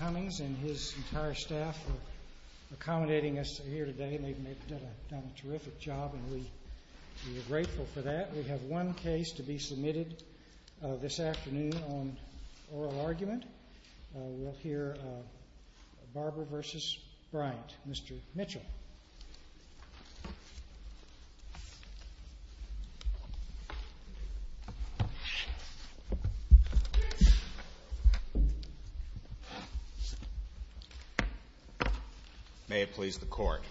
Barber v. Bryant May it please the Court.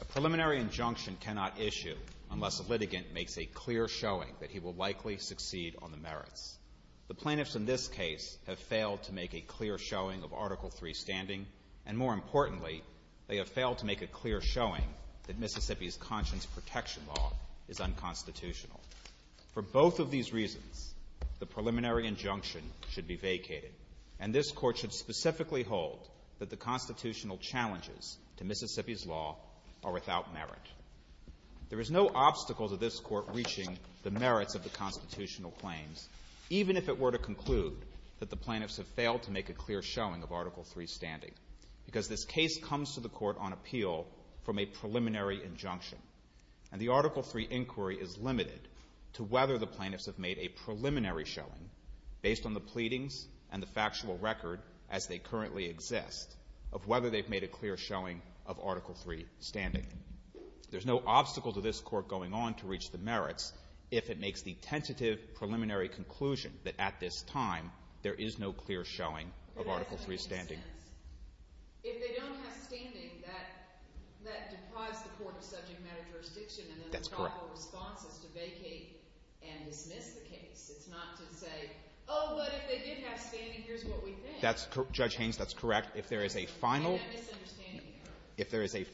A preliminary injunction cannot issue unless a litigant makes a clear showing that he will likely succeed on the merits. The plaintiffs in this case have failed to make a clear showing of Article III standing, and more importantly, they have failed to make a clear showing that Mississippi's conscience protection law is unconstitutional. For both of these reasons, the preliminary injunction should be vacated, and this Court should specifically hold that the constitutional challenges to Mississippi's law are without merit. There is no obstacle to this Court reaching the merits of the constitutional claims, even if it were to conclude that the plaintiffs have failed to make a clear showing of Article III standing, because this case comes to the Court on appeal from a preliminary injunction, and the Article III inquiry is limited to whether the plaintiffs have made a preliminary showing based on the pleadings and the factual record, as they currently exist, of whether they've made a clear showing of Article III standing. There's no obstacle to this Court going on to reach the merits if it makes the tentative preliminary conclusion that at this time there is no clear showing of Article III standing. If they don't have standing, that deprives the Court of subject-matter jurisdiction, and then we call the responsible to vacate and dismiss the case. It's not to say, oh, well, if they did have standing, here's what we think. That's correct. Judge Haynes, that's correct. If there is a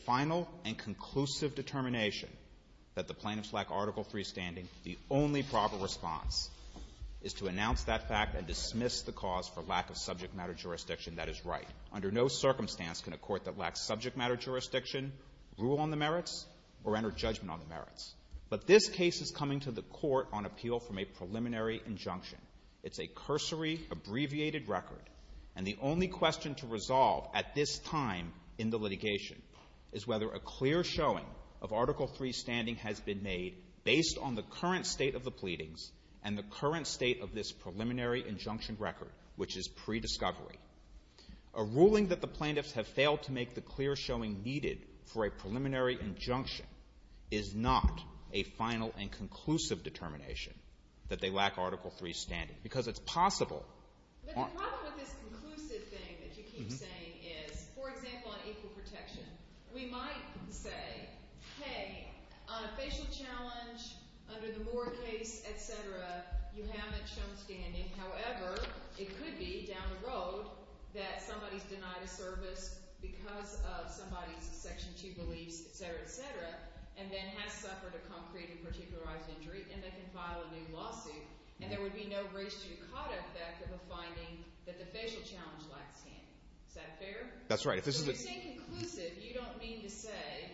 final and conclusive determination that the plaintiffs lack Article III standing, the only proper response is to announce that fact and dismiss the cause for lack of subject-matter jurisdiction. That is right. Under no circumstance can a court that lacks subject-matter jurisdiction rule on the merits or enter judgment on the merits. But this case is coming to the Court on appeal from a preliminary injunction. It's a cursory, abbreviated record, and the only question to resolve at this time in the litigation is whether a clear showing of Article III standing has been made based on the current state of the pleadings and the current state of this preliminary injunction record, which is pre-discovery. A ruling that the plaintiffs have failed to make the clear showing needed for a preliminary injunction is not a final and conclusive determination that they lack Article III standing, because it's possible. The problem with this conclusive thing that you keep saying is, for example, on equal protection, we might say, hey, on a facial challenge, under the board case, et cetera, you haven't shown standing. However, it could be down the road that somebody's denied of service because of somebody's Section 2 belief, et cetera, et cetera, and then has suffered a concrete and particularized injury, and then can file a new lawsuit. And there would be no risk to your conduct of a finding that the facial challenge lacks standing. Is that fair? That's right. If you think conclusive, you don't mean to say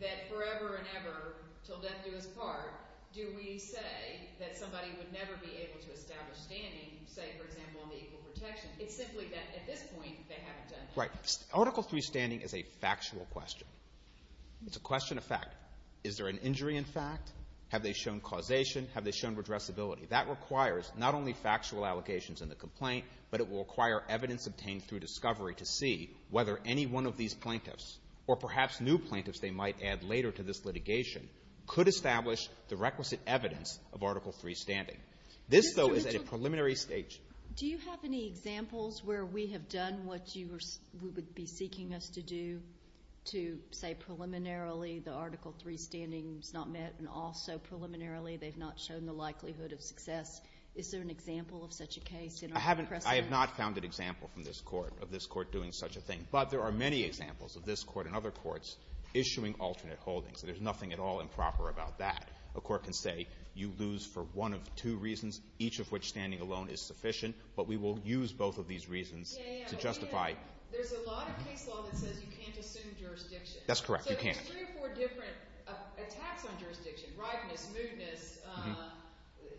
that forever and ever, till death do us part, do we say that somebody would never be able to establish standing, say, for example, on equal protection. It's simply that, at this point, they have done so. Right. Article III standing is a factual question. It's a question of fact. Is there an injury in fact? Have they shown causation? Have they shown redressability? That requires not only factual allocations in the complaint, but it will require evidence obtained through discovery to see whether any one of these plaintiffs, or perhaps new plaintiffs they might add later to this litigation, could establish the requisite evidence of Article III standing. This, though, is at a preliminary stage. Do you have any examples where we have done what you would be seeking us to do, to say preliminarily the Article III standing is not met, and also preliminarily they've not shown the likelihood of success? Is there an example of such a case? I have not found an example from this Court of this Court doing such a thing. But there are many examples of this Court and other courts issuing alternate holdings. There's nothing at all improper about that. A court can say you lose for one of two reasons, each of which standing alone is sufficient, but we will use both of these reasons to justify. There's a lot of case law that says you can't assume jurisdiction. That's correct, you can't. So there's three or four different attacks on jurisdiction, bribements, movements,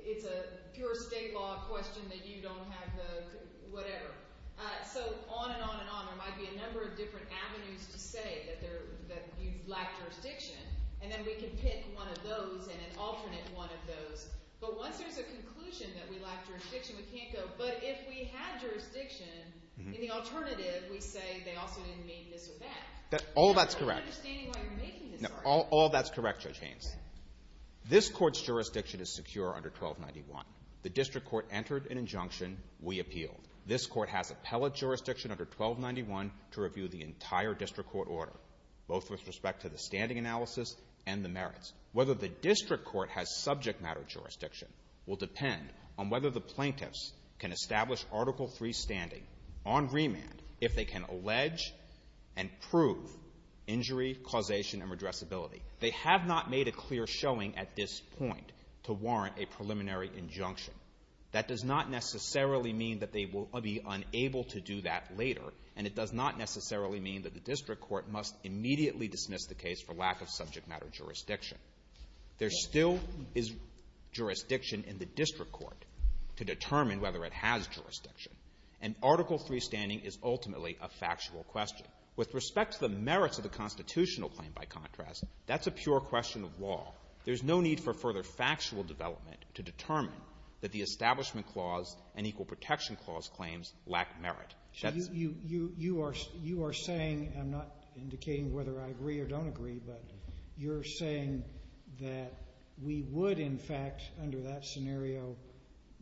it's a pure state law question that you don't have those, whatever. So on and on and on, there might be a number of different avenues to say that you lack jurisdiction, and then we can pick one of those and an alternate one of those. But once there's a conclusion that we lack jurisdiction, we can't go, but if we had jurisdiction, in the alternative, we'd say they also didn't meet this event. All that's correct. I'm not understanding why you're making this argument. No, all that's correct, Judge Gaines. This Court's jurisdiction is secure under 1291. The district court entered an injunction, we appeal. This Court has appellate jurisdiction under 1291 to review the entire district court order, both with respect to the standing analysis and the merits. Whether the district court has subject matter jurisdiction will depend on whether the plaintiffs can establish Article III standing on remand if they can allege and prove injury, causation, and redressability. They have not made a clear showing at this point to warrant a preliminary injunction. That does not necessarily mean that they will be unable to do that later, and it does not necessarily mean that the district court must immediately dismiss the case for lack of subject matter jurisdiction. There still is jurisdiction in the district court to determine whether it has jurisdiction, and Article III standing is ultimately a factual question. With respect to the merits of the constitutional claim, by contrast, that's a pure question of law. There's no need for further factual development to determine that the Establishment Clause and Equal Protection Clause claims lack merit. You are saying, and I'm not indicating whether I agree or don't agree, but you're saying that we would, in fact, under that scenario,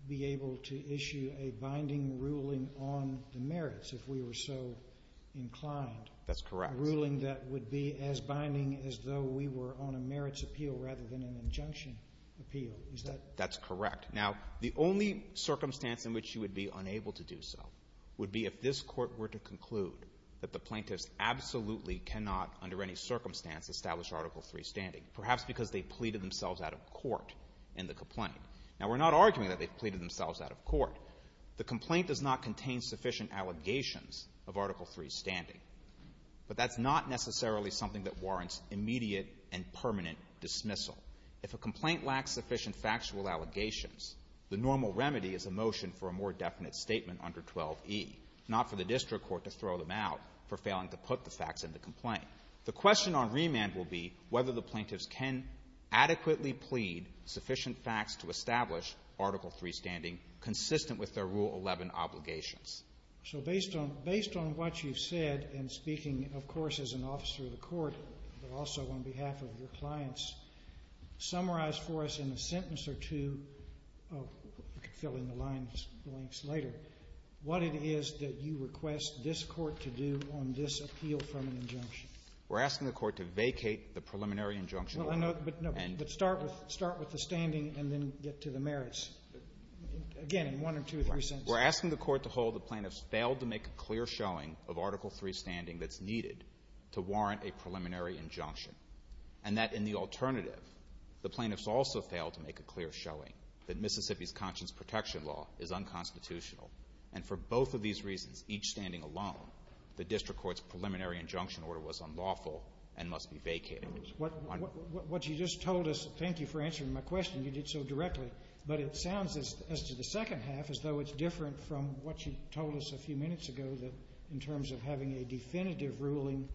be able to issue a binding ruling on the merits if we were so inclined. That's correct. A ruling that would be as binding as though we were on a merits appeal rather than an injunction appeal. That's correct. Now, the only circumstance in which you would be unable to do so would be if this court were to conclude that the plaintiffs absolutely cannot, under any circumstance, establish Article III standing, perhaps because they pleaded themselves out of court in the complaint. Now, we're not arguing that they've pleaded themselves out of court. The complaint does not contain sufficient allegations of Article III standing, but that's not necessarily something that warrants immediate and permanent dismissal. If a complaint lacks sufficient factual allegations, the normal remedy is a motion for a more definite statement under 12e, not for the district court to throw them out for failing to put the facts in the complaint. The question on remand will be whether the plaintiffs can adequately plead sufficient facts to establish Article III standing consistent with their Rule 11 obligations. So based on what you've said, and speaking, of course, as an officer of the court, but also on behalf of your clients, summarize for us in a sentence or two, fill in the blanks later, what it is that you request this court to do on this appeal from an injunction. We're asking the court to vacate the preliminary injunction. But start with the standing and then get to the merits. Again, in one or two or three sentences. We're asking the court to hold the plaintiffs failed to make a clear showing of Article III standing that's needed to warrant a preliminary injunction. And that in the alternative, the plaintiffs also failed to make a clear showing that Mississippi's conscience protection law is unconstitutional. And for both of these reasons, each standing alone, the district court's preliminary injunction order was unlawful and must be vacated. What you just told us, thank you for answering my question, you did so directly. But it sounds as to the second half as though it's different from what you told us a few minutes ago in terms of having a definitive ruling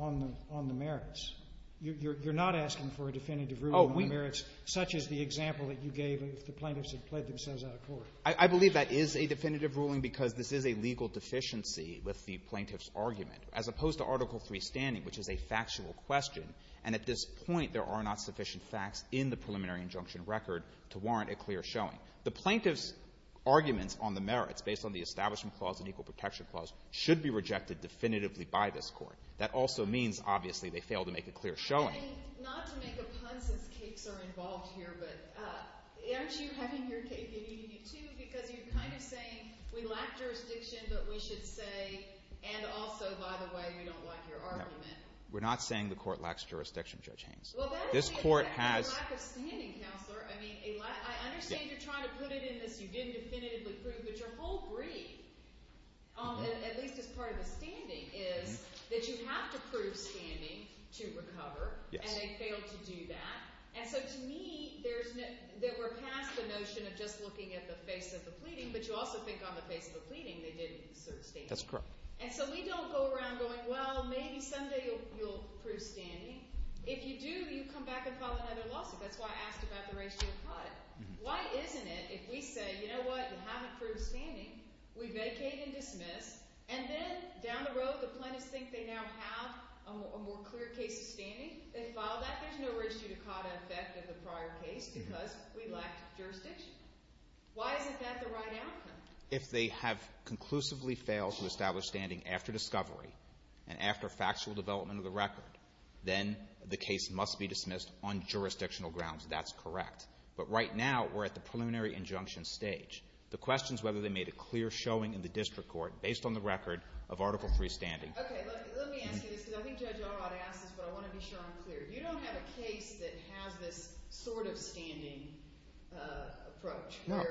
on the merits. You're not asking for a definitive ruling on merits such as the example that you gave if the plaintiffs had pled themselves out of court. I believe that is a definitive ruling because this is a legal deficiency with the plaintiff's argument as opposed to Article III standing, which is a factual question. And at this point, there are not sufficient facts in the preliminary injunction record to warrant a clear showing. The plaintiff's arguments on the merits based on the Establishment Clause and Equal Protection Clause should be rejected definitively by this Court. That also means, obviously, they failed to make a clear showing. And not to make a pun, since cases are involved here, but aren't you having your case in EDQ because you're kind of saying we lack jurisdiction, but we should say, and also, by the way, we don't like your argument. We're not saying the Court lacks jurisdiction, Judge Haynes. This Court has – Well, that is a lack of standing, Counselor. I understand you're trying to put it in that you didn't definitively prove, but your whole brief, at least as part of the standing, is that you have to prove standing to recover, and they failed to do that. And so to me, we're past the notion of just looking at the face of the pleading, but you also think on the face of the pleading they didn't insert standing. That's correct. And so we don't go around going, well, maybe someday you'll prove standing. If you do, you come back and file another lawsuit. That's why I asked about the ratio of cause. Why isn't it, if we say, you know what, we haven't proved standing, we mediate and dismiss, and then down the road the plaintiffs think they now have a more clear case of standing, they file that into a ratio of cause and effect of the prior case because we lack jurisdiction. Why isn't that the right outcome? If they have conclusively failed to establish standing after discovery and after factual development of the record, then the case must be dismissed on jurisdictional grounds. That's correct. But right now we're at the preliminary injunction stage. The question is whether they made a clear showing in the district court based on the record of Article III standing. Okay, let me answer this because I think Judge Arnott asked this, but I want to be sure I'm clear. You don't have a case that has a sort of standing approach. No.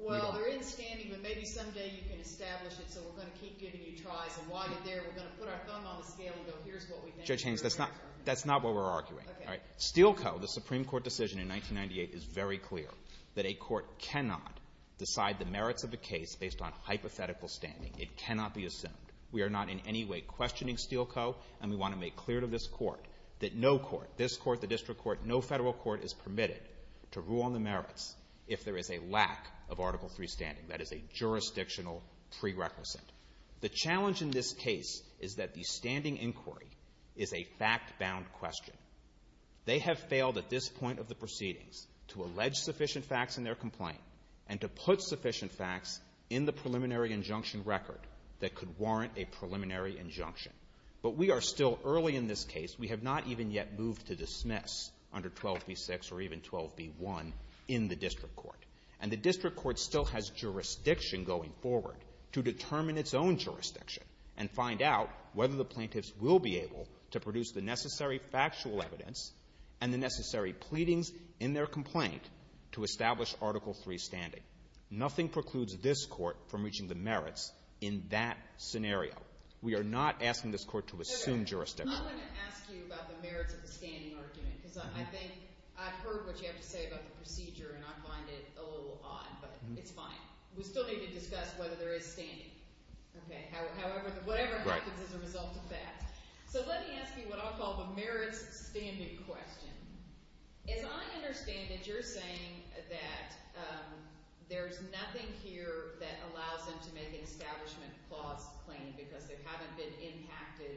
Well, there is standing, but maybe someday you can establish it Judge Haynes, that's not what we're arguing. Steel Co, the Supreme Court decision in 1998, is very clear that a court cannot decide the merits of a case based on hypothetical standing. It cannot be assumed. We are not in any way questioning Steel Co, and we want to make clear to this court that no court, this court, the district court, no federal court is permitted to rule on the merits if there is a lack of Article III standing. That is a jurisdictional prerequisite. The challenge in this case is that the standing inquiry is a fact-bound question. They have failed at this point of the proceedings to allege sufficient facts in their complaint and to put sufficient facts in the preliminary injunction record that could warrant a preliminary injunction. But we are still early in this case. We have not even yet moved to dismiss under 12b-6 or even 12b-1 in the district court. And the district court still has jurisdiction going forward to determine its own jurisdiction and find out whether the plaintiffs will be able to produce the necessary factual evidence and the necessary pleadings in their complaint to establish Article III standing. Nothing precludes this court from reaching the merits in that scenario. We are not asking this court to assume jurisdiction. I'm not going to ask you about the merits of the standing argument because I think I've heard what you have to say about the procedure and I find it a little odd, but it's fine. We still need to discuss whether there is standing. However, whatever happens is a result of that. So let me ask you what I'll call the merits of the standing question. As I understand it, you're saying that there's nothing here that allows them to make an establishment clause claim because they haven't been impacted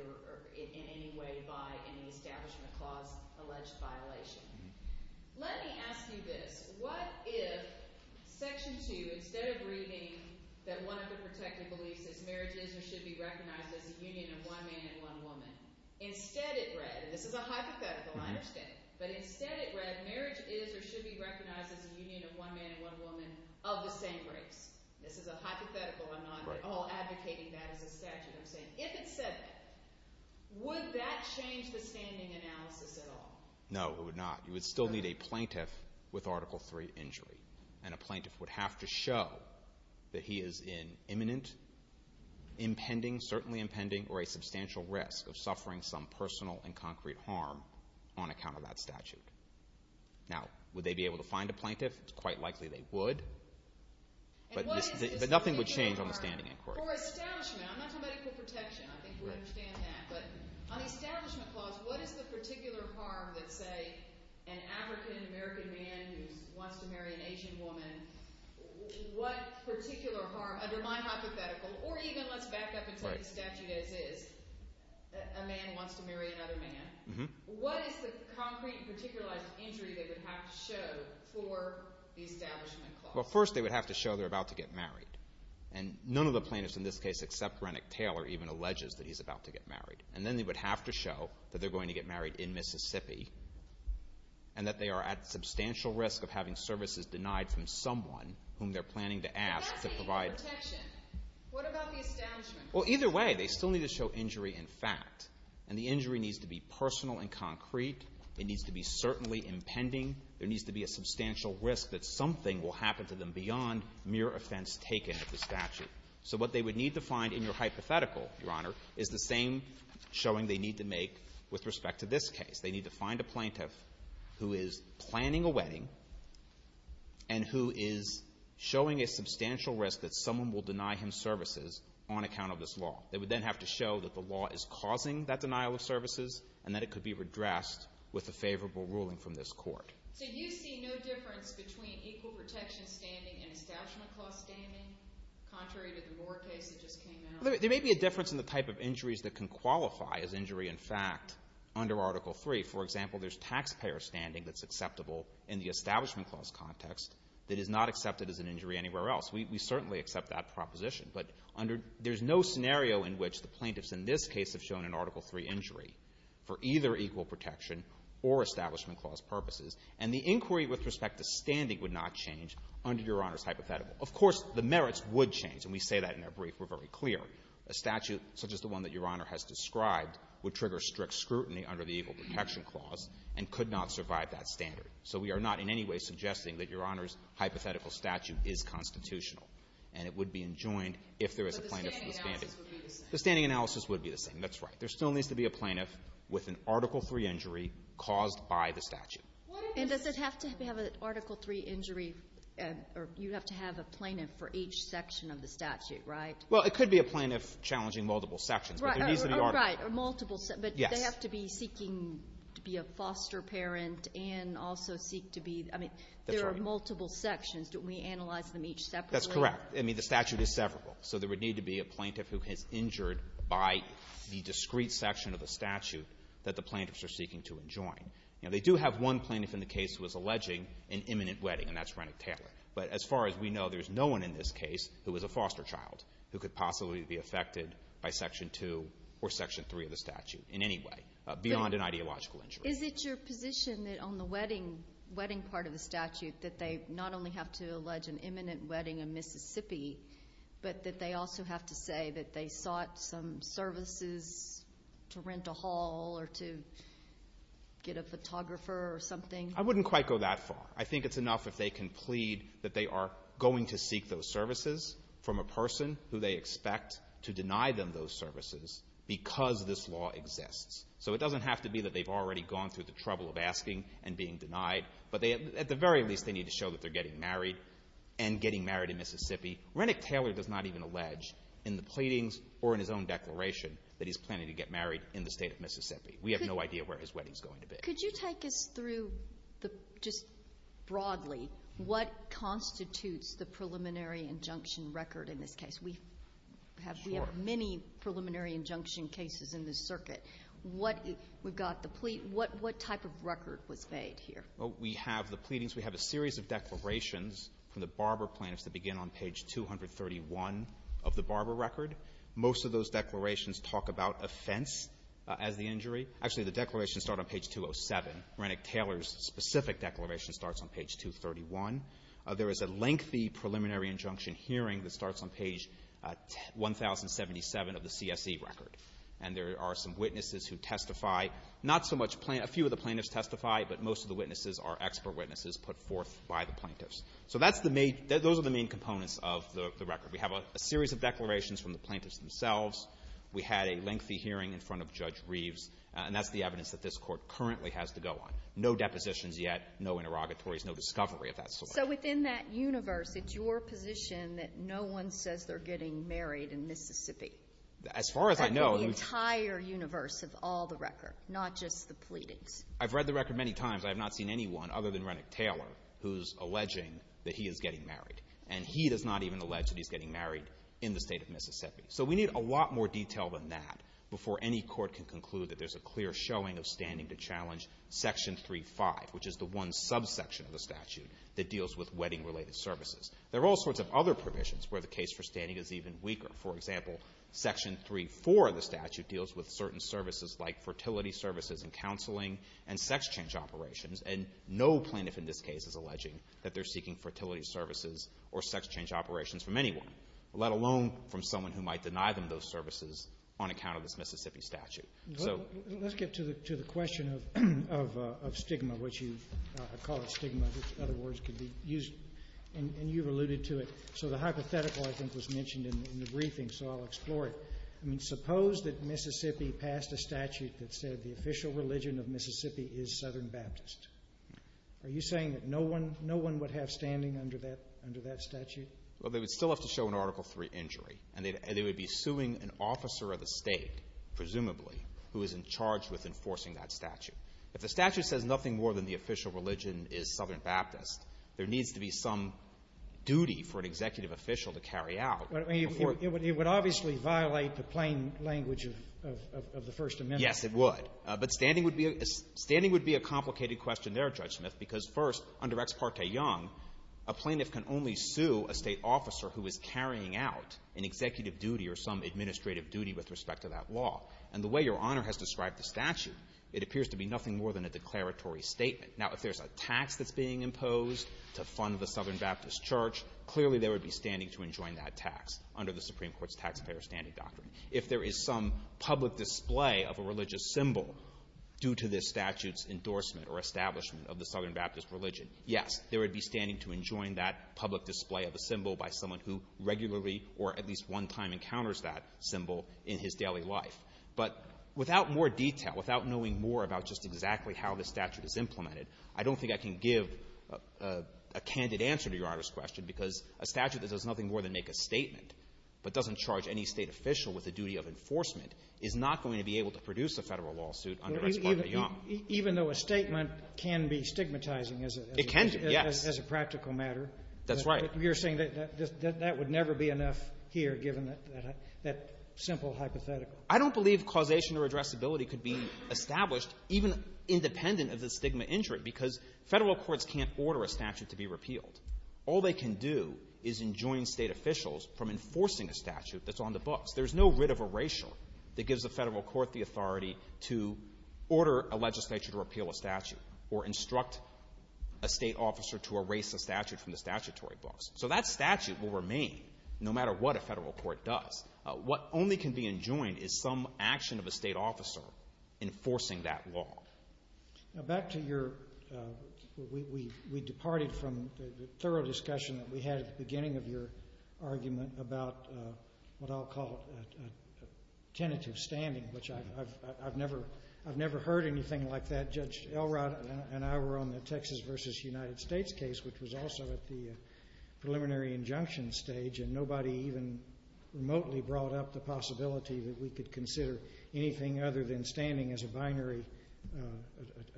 in any way by any establishment clause alleged violation. Let me ask you this. What if Section 2, instead of reading that one of the perspectives believes that marriage is or should be recognized as a union of one man and one woman, instead it read, and this is a hypothetical, I understand, but instead it read marriage is or should be recognized as a union of one man and one woman of the same race. This is a hypothetical, I'm not at all advocating that as a section. If it said that, would that change the standing analysis at all? No, it would not. You would still need a plaintiff with Article III injury, and a plaintiff would have to show that he is in imminent, impending, certainly impending, or a substantial risk of suffering some personal and concrete harm on account of that statute. Now, would they be able to find a plaintiff? It's quite likely they would. But nothing would change on the standing inquiry. For establishment, I'm not so much for protection, I think you would understand that, but on the establishment clause, what is the particular harm that, say, an African-American man who wants to marry an Asian woman, what particular harm, under my hypothetical, or even let's back up and put the statute as is, a man wants to marry another man, what is the concrete and particular injury that would have to show for the establishment clause? Well, first they would have to show they're about to get married. And none of the plaintiffs in this case except Renick Taylor even alleges that he's about to get married. And then they would have to show that they're going to get married in Mississippi and that they are at substantial risk of having services denied from someone whom they're planning to ask to provide them. What about the establishment? Well, either way, they still need to show injury in fact. And the injury needs to be personal and concrete. It needs to be certainly impending. There needs to be a substantial risk that something will happen to them beyond mere offense taken at the statute. So what they would need to find in your hypothetical, Your Honor, is the same showing they need to make with respect to this case. They need to find a plaintiff who is planning a wedding and who is showing a substantial risk that someone will deny him services on account of this law. They would then have to show that the law is causing that denial of services and that it could be redressed with a favorable ruling from this court. So you see no difference between equal protection standing and establishment cost standing contrary to the Moore case that just came out? There may be a difference in the type of injuries that can qualify as injury in fact under Article III. For example, there's taxpayer standing that's acceptable in the establishment cost context that is not accepted as an injury anywhere else. We certainly accept that proposition. But there's no scenario in which the plaintiffs in this case have shown an Article III injury for either equal protection or establishment cost purposes. And the inquiry with respect to standing would not change under Your Honor's hypothetical. Of course, the merits would change, and we say that in our brief. We're very clear. A statute such as the one that Your Honor has described would trigger strict scrutiny under the equal protection clause and could not survive that standard. So we are not in any way suggesting that Your Honor's hypothetical statute is constitutional and it would be enjoined if there was a plaintiff standing. But the standing analysis would be the same. The standing analysis would be the same. That's right. There still needs to be a plaintiff with an Article III injury caused by the statute. And does it have to have an Article III injury, or you have to have a plaintiff for each section of the statute, right? Well, it could be a plaintiff challenging multiple sections. Right, or multiple sections. But they have to be seeking to be a foster parent and also seek to be, I mean, there are multiple sections, but we analyze them each separately. That's correct. I mean, the statute is several, so there would need to be a plaintiff who was injured by the discrete section of the statute that the plaintiffs are seeking to enjoin. Now, they do have one plaintiff in the case who was alleging an imminent wedding, and that's Rennick Taylor. But as far as we know, there's no one in this case who was a foster child who could possibly be affected by Section 2 or Section 3 of the statute in any way beyond an ideological injury. Is it your position that on the wedding part of the statute that they not only have to allege an imminent wedding in Mississippi, but that they also have to say that they sought some services to rent a hall or to get a photographer or something? I wouldn't quite go that far. I think it's enough if they can plead that they are going to seek those services from a person who they expect to deny them those services because this law exists. So it doesn't have to be that they've already gone through the trouble of asking and being denied, but at the very least they need to show that they're getting married and getting married in Mississippi. Rennick Taylor does not even allege in the pleadings or in his own declaration that he's planning to get married in the state of Mississippi. We have no idea where his wedding is going to be. Could you take us through just broadly what constitutes the preliminary injunction record in this case? We have many preliminary injunction cases in this circuit. What type of record was made here? We have the pleadings. We have a series of declarations from the barber plants that begin on page 231 of the barber record. Most of those declarations talk about offense as the injury. Actually, the declarations start on page 207. Rennick Taylor's specific declaration starts on page 231. There is a lengthy preliminary injunction hearing that starts on page 1077 of the CSE record, and there are some witnesses who testify. A few of the plaintiffs testify, but most of the witnesses are expert witnesses put forth by the plaintiffs. So those are the main components of the record. We have a series of declarations from the plaintiffs themselves. We had a lengthy hearing in front of Judge Reeves, and that's the evidence that this Court currently has to go on. No depositions yet, no interrogatories, no discovery of that sort. So within that universe, it's your position that no one says they're getting married in Mississippi? As far as I know, the entire universe has all the records, not just the pleadings. I've read the record many times. I have not seen anyone other than Rennick Taylor who's alleging that he is getting married, and he does not even allege that he's getting married in the state of Mississippi. So we need a lot more detail than that before any court can conclude that there's a clear showing of standing to challenge Section 3.5, which is the one subsection of the statute that deals with wedding-related services. There are all sorts of other provisions where the case for standing is even weaker. For example, Section 3.4 of the statute deals with certain services like fertility services and counseling and sex change operations, and no plaintiff in this case is alleging that they're seeking fertility services or sex change operations from anyone, let alone from someone who might deny them those services on account of this Mississippi statute. Let's get to the question of stigma, which you have called stigma, which, in other words, can be used, and you've alluded to it. So the hypothetical, I think, was mentioned in the briefing, so I'll explore it. I mean, suppose that Mississippi passed a statute that said the official religion of Mississippi is Southern Baptist. Are you saying that no one would have standing under that statute? Well, they would still have to show an Article III injury, and they would be suing an officer of the state, presumably, who is in charge with enforcing that statute. If the statute says nothing more than the official religion is Southern Baptist, there needs to be some duty for an executive official to carry out. It would obviously violate the plain language of the First Amendment. Yes, it would. But standing would be a complicated question there, Judge Smith, because first, under Ex Parte Young, a plaintiff can only sue a state officer who is carrying out an executive duty or some administrative duty with respect to that law. And the way Your Honor has described the statute, it appears to be nothing more than a declaratory statement. Now, if there's a tax that's being imposed to fund the Southern Baptist Church, clearly they would be standing to enjoin that tax under the Supreme Court's Taxpayer Standing Doctrine. If there is some public display of a religious symbol due to this statute's endorsement or establishment of the Southern Baptist religion, yes, they would be standing to enjoin that public display of a symbol by someone who regularly or at least one time encounters that symbol in his daily life. But without more detail, without knowing more about just exactly how this statute is implemented, I don't think I can give a candid answer to Your Honor's question because a statute that does nothing more than make a statement but doesn't charge any state official with the duty of enforcement is not going to be able to produce a federal lawsuit under Ex Parte Young. Even though a statement can be stigmatizing as a practical matter. That's right. You're saying that that would never be enough here given that simple hypothetical. I don't believe causation or addressability could be established even independent of the stigma injured because federal courts can't order a statute to be repealed. All they can do is enjoin state officials from enforcing a statute that's on the books. There's no writ of erasure that gives the federal court the authority to order a legislature to repeal a statute or instruct a state officer to erase a statute from the statutory books. So that statute will remain no matter what a federal court does. What only can be enjoined is some action of a state officer enforcing that law. Back to your—we departed from the thorough discussion that we had at the beginning of your argument about what I'll call tentative standing, which I've never heard anything like that. Judge Elrod and I were on the Texas v. United States case, which was also at the preliminary injunction stage, and nobody even remotely brought up the possibility that we could consider anything other than standing as a binary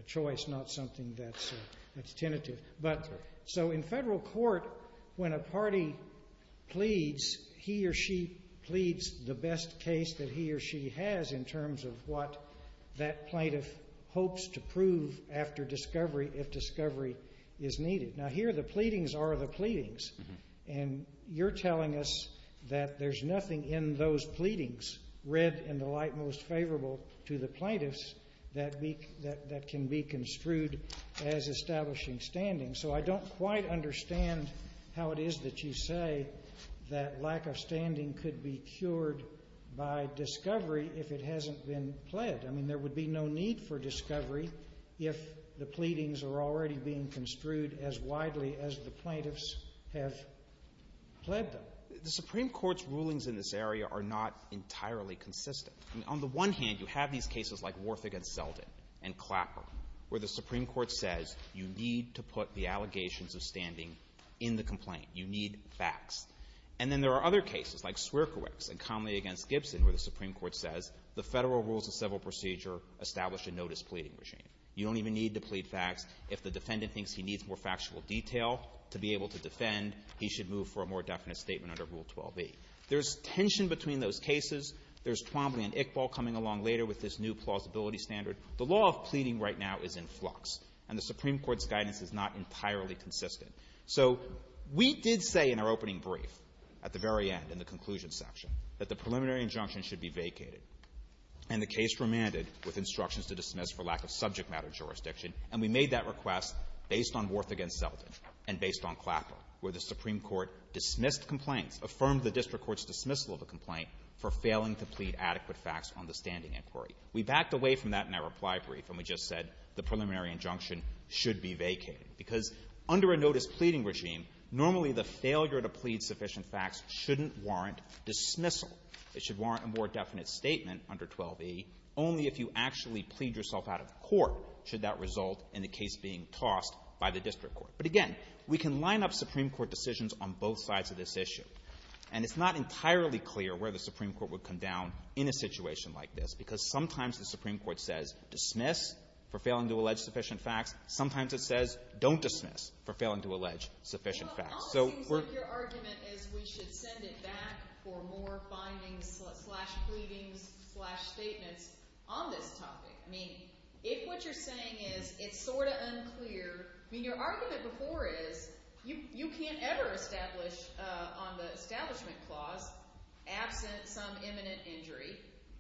choice, not something that's tentative. So in federal court, when a party pleads, he or she pleads the best case that he or she has in terms of what that plaintiff hopes to prove after discovery if discovery is needed. Now here the pleadings are the pleadings, and you're telling us that there's nothing in those pleadings, read in the light most favorable to the plaintiffs, that can be construed as establishing standing. So I don't quite understand how it is that you say that lack of standing could be cured by discovery if it hasn't been pledged. I mean, there would be no need for discovery if the pleadings are already being construed as widely as the plaintiffs have pledged them. The Supreme Court's rulings in this area are not entirely consistent. On the one hand, you have these cases like Worf v. Zeldin and Clapper where the Supreme Court says you need to put the allegations of standing in the complaint. You need facts. And then there are other cases like Sierkiewicz and Conley v. Gibson where the Supreme Court says the federal rules of civil procedure establish a no-displeading regime. You don't even need to plead facts. If the defendant thinks he needs more factual detail to be able to defend, he should move for a more definite statement under Rule 12b. There's tension between those cases. There's Twombly and Iqbal coming along later with this new plausibility standard. The law of pleading right now is in flux, and the Supreme Court's guidance is not entirely consistent. So we did say in our opening brief at the very end in the conclusion section that the preliminary injunction should be vacated, and the case remanded with instructions to dismiss for lack of subject matter jurisdiction. And we made that request based on Worf v. Zeldin and based on Clapper where the Supreme Court dismissed the complaint, affirmed the district court's dismissal of the complaint for failing to plead adequate facts on the standing inquiry. We backed away from that in our reply brief, and we just said the preliminary injunction should be vacated because under a notice-pleading regime, normally the failure to plead sufficient facts shouldn't warrant dismissal. It should warrant a more definite statement under 12e only if you actually plead yourself out of court should that result in the case being tossed by the district court. But again, we can line up Supreme Court decisions on both sides of this issue, and it's not entirely clear where the Supreme Court would come down in a situation like this because sometimes the Supreme Court says dismiss for failing to allege sufficient facts. Your argument is we should send it back for more findings, slash pleadings, slash statements on this topic. I mean, if what you're saying is it's sort of unclear, I mean your argument before is you can't ever establish on the establishment clause absent some imminent injury,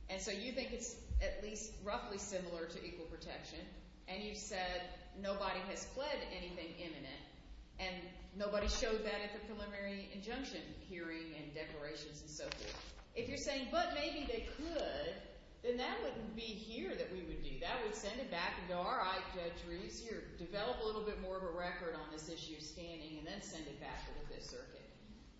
and so you think it's at least roughly similar to equal protection, and you said nobody has pled anything imminent and nobody showed that at the preliminary injunction hearing and declarations and so forth. If you're saying, but maybe they could, then that wouldn't be here that we would do. That would send it back and go, all right, Judge Reed, here, develop a little bit more of a record on this issue standing, and then send it back to the district court.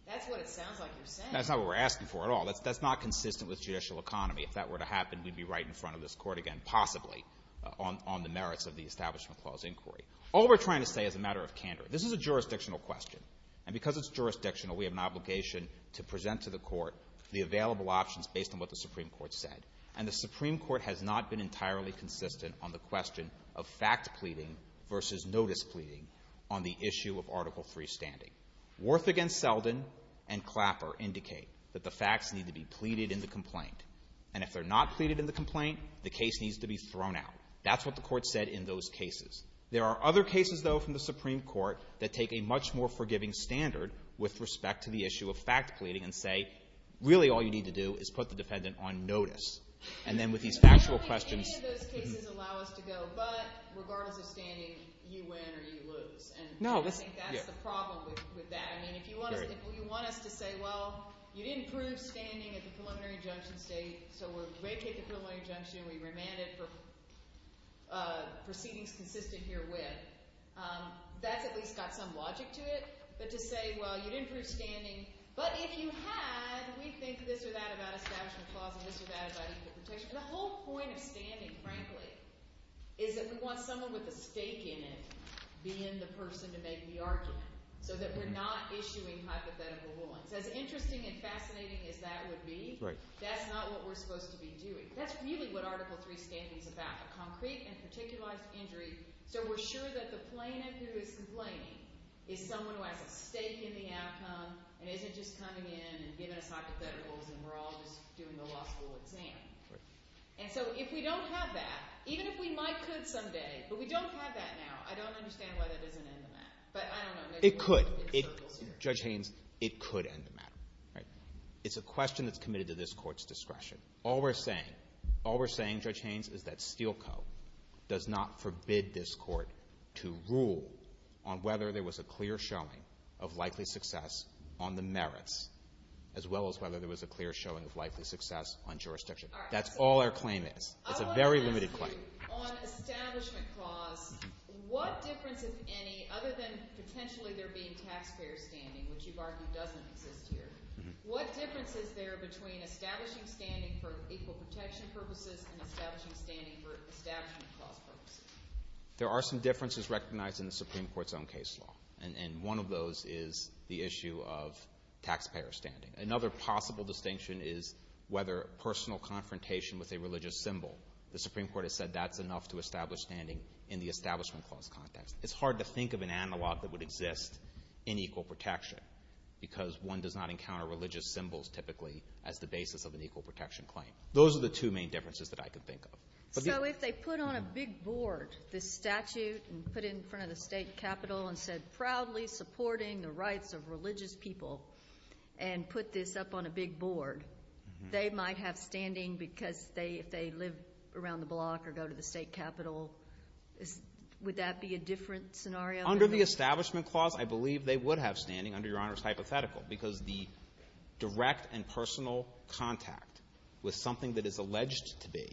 That's what it sounds like you're saying. That's not what we're asking for at all. That's not consistent with judicial economy. If that were to happen, we'd be right in front of this court again, possibly, on the merits of the establishment clause inquiry. All we're trying to say is a matter of candor. This is a jurisdictional question, and because it's jurisdictional, we have an obligation to present to the court the available options based on what the Supreme Court said, and the Supreme Court has not been entirely consistent on the question of fact pleading versus notice pleading on the issue of Article III standing. Wharf against Selden and Clapper indicate that the facts need to be pleaded in the complaint, and if they're not pleaded in the complaint, the case needs to be thrown out. That's what the court said in those cases. There are other cases, though, from the Supreme Court that take a much more forgiving standard with respect to the issue of fact pleading and say really all you need to do is put the defendant on notice. And then with these factual questions. Any of those cases allow us to go, but regardless of standing, you win or you lose. And I think that's the problem with that. I mean if you want us to say, well, you didn't prove standing at the preliminary junction date, so we're way past the preliminary junction, we remanded proceedings consistent herewith, that's at least got some logic to it. But to say, well, you didn't prove standing, but if you had, and we think this or that about establishment clause The whole point of standing, frankly, is that we want someone with a stake in it being the person to make the argument, so that we're not issuing hypothetical warrants. As interesting and fascinating as that would be, that's not what we're supposed to be doing. That's really what Article 3 stands for. It's about concrete and particular injuries, so we're sure that the plaintiff who is complaining is someone who has a stake in the outcome, and isn't just coming in and we're all just doing the law school exam. And so if we don't have that, even if we might someday, but we don't have that now, I don't understand why that doesn't end the matter. It could. Judge Haynes, it could end the matter. It's a question that's committed to this court's discretion. All we're saying, Judge Haynes, is that Steel Co. does not forbid this court to rule on whether there was a clear showing of likely success on the merits, as well as whether there was a clear showing of likely success on jurisdiction. That's all our claim is. It's a very limited claim. There are some differences recognized in the Supreme Court's own case law, and one of those is the issue of taxpayer standing. Another possible distinction is whether personal confrontation with a religious symbol. The Supreme Court has said that's enough to establish standing in the Establishment Clause context. It's hard to think of an analog that would exist in equal protection, because one does not encounter religious symbols, typically, as the basis of an equal protection claim. Those are the two main differences that I could think of. So if they put on a big board this statute and put it in front of the state capitol and said, proudly supporting the rights of religious people, and put this up on a big board, they might have standing because if they live around the block or go to the state capitol, would that be a different scenario? Under the Establishment Clause, I believe they would have standing, under Your Honor's hypothetical, because the direct and personal contact with something that is alleged to be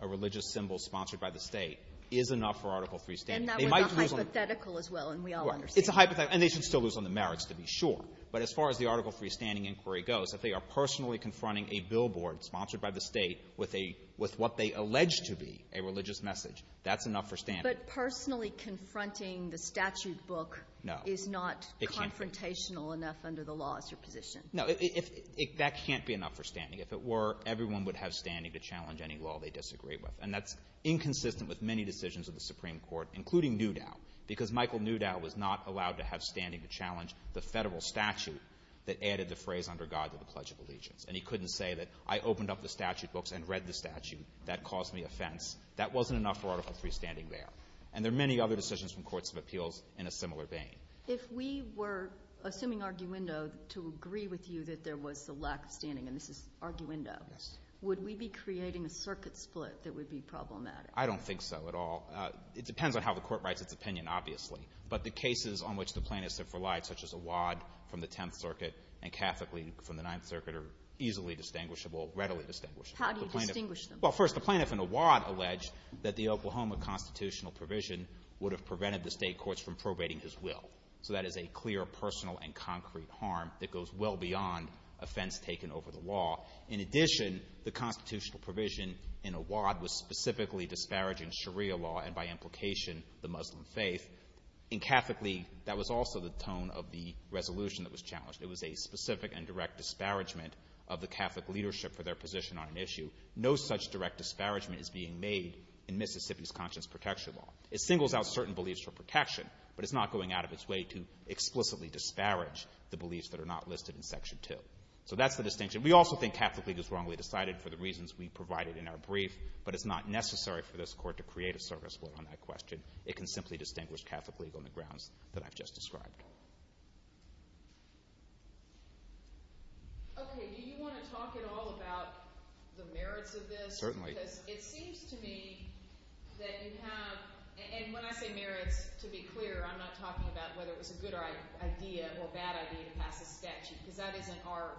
a religious symbol sponsored by the state is enough for article free standing. And that was a hypothetical as well, and we all understand that. It's a hypothetical, and they should still lose on the merits, to be sure. But as far as the article free standing inquiry goes, if they are personally confronting a billboard sponsored by the state with what they allege to be a religious message, that's enough for standing. But personally confronting the statute book is not confrontational enough under the law as your position. No. That can't be enough for standing. If it were, everyone would have standing to challenge any law they disagree with. And that's inconsistent with many decisions of the Supreme Court, including Newdow, because Michael Newdow was not allowed to have standing to challenge the federal statute that added the phrase under God to the Pledge of Allegiance. And he couldn't say that I opened up the statute books and read the statute. That caused me offense. That wasn't enough for article free standing there. And there are many other decisions from courts of appeals in a similar vein. If we were assuming arguendo to agree with you that there was a lack of standing, and this is arguendo, would we be creating a circuit split that would be problematic? I don't think so at all. It depends on how the court writes its opinion, obviously. But the cases on which the plaintiffs have relied, such as Awad from the 10th Circuit and Catholicly from the 9th Circuit, are easily distinguishable, readily distinguishable. How do you distinguish them? Well, first, the plaintiff in Awad alleged that the Oklahoma constitutional provision would have prevented the state courts from probating his will. So that is a clear personal and concrete harm that goes well beyond offense taken over the law. In addition, the constitutional provision in Awad was specifically disparaging Sharia law and, by implication, the Muslim faith. In Catholicly, that was also the tone of the resolution that was challenged. It was a specific and direct disparagement of the Catholic leadership for their position on an issue. No such direct disparagement is being made in Mississippi's Conscience Protection Law. It singles out certain beliefs for protection, but it's not going out of its way to explicitly disparage the beliefs that are not listed in Section 2. So that's the distinction. We also think Catholicly was wrongly decided for the reasons we provided in our brief, but it's not necessary for this Court to create a service for one question. It can simply distinguish Catholicly on the grounds that I've just described. Okay. Do you want to talk at all about the merits of this? Certainly. Because it seems to me that it has, and when I say merits, to be clear, I'm not talking about whether it was a good idea or a bad idea, because that is in our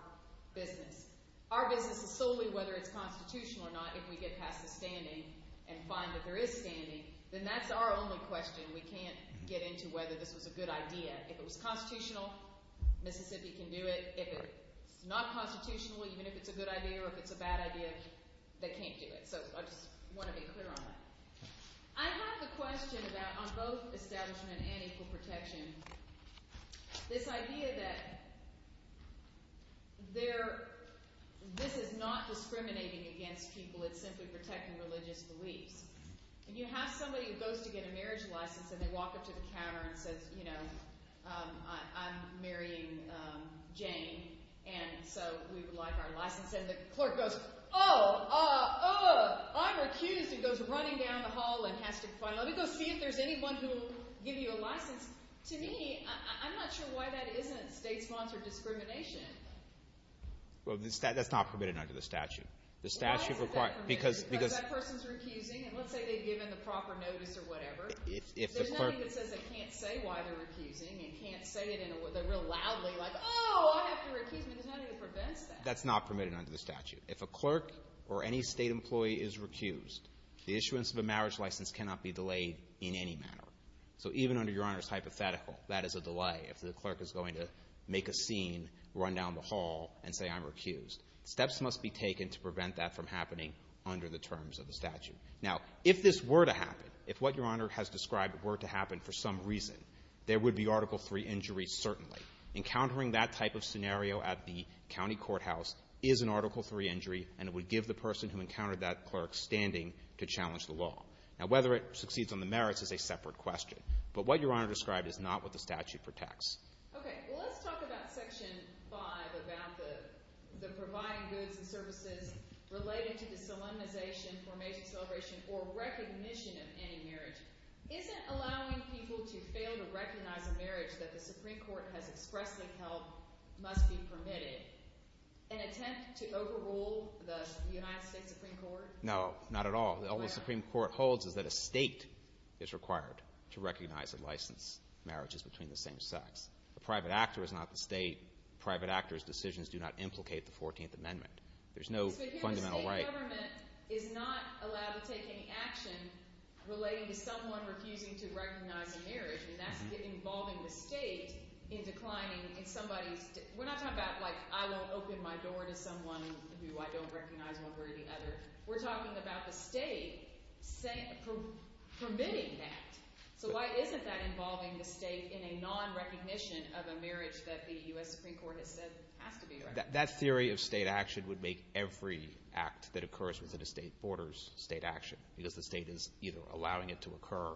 business. Our business is solely whether it's constitutional or not. If we get past the standing and find that there is standing, then that's our only question. We can't get into whether this was a good idea. If it was constitutional, Mississippi can do it. If it's not constitutional, even if it's a good idea or if it's a bad idea, they can't do it. So I just want to be clear on that. I have a question about, on both establishment and equal protection, this idea that this is not discriminating against people, it's simply protecting religious beliefs. If you have somebody who goes to get a marriage license and they walk up to the counter and says, you know, I'm marrying Jane, and so we'd like our license, and the clerk goes, oh, I'm accused, and goes running down the hall and has to find out. He's going to see if there's anyone who will give you a license. To me, I'm not sure why that isn't state-sponsored discrimination. Well, that's not permitted under the statute. The statute requires – That person's accusing, and let's say they've given the proper notice or whatever. If the person – There's nothing that says they can't say why they're accusing. You can't say it, and they're real loudly like, oh, I have to refuse. There's nothing that prevents that. That's not permitted under the statute. If a clerk or any state employee is recused, the issuance of a marriage license cannot be delayed in any manner. So even under Your Honor's hypothetical, that is a delay. If the clerk is going to make a scene, run down the hall, and say I'm recused, steps must be taken to prevent that from happening under the terms of the statute. Now, if this were to happen, if what Your Honor has described were to happen for some reason, there would be Article III injuries, certainly. Encountering that type of scenario at the county courthouse is an Article III injury, and it would give the person who encountered that clerk standing to challenge the law. Now, whether it succeeds on the merits is a separate question. But what Your Honor described is not what the statute protects. Okay. Well, let's talk about Section 5, about the providing goods and services related to the solemnization or maybe celebration or recognition of any marriage. Isn't allowing people to fail to recognize a marriage that the Supreme Court has expressly held must be permitted an attempt to overrule the United States Supreme Court? No, not at all. The only Supreme Court holds is that a state is required to recognize and license marriages between the same sex. A private actor is not the state. Private actors' decisions do not implicate the 14th Amendment. There's no fundamental right. The government is not allowed to take any action relating to someone refusing to recognize a marriage, and that's getting involved in the state in declining somebody's – we're not talking about, like, I won't open my door to someone who I don't recognize, one way or the other. We're talking about the state permitting that. So why isn't that involving the state in a nonrecognition of a marriage that the U.S. Supreme Court has said has to be recognized? That theory of state action would make every act that occurs within a state borders state action because the state is either allowing it to occur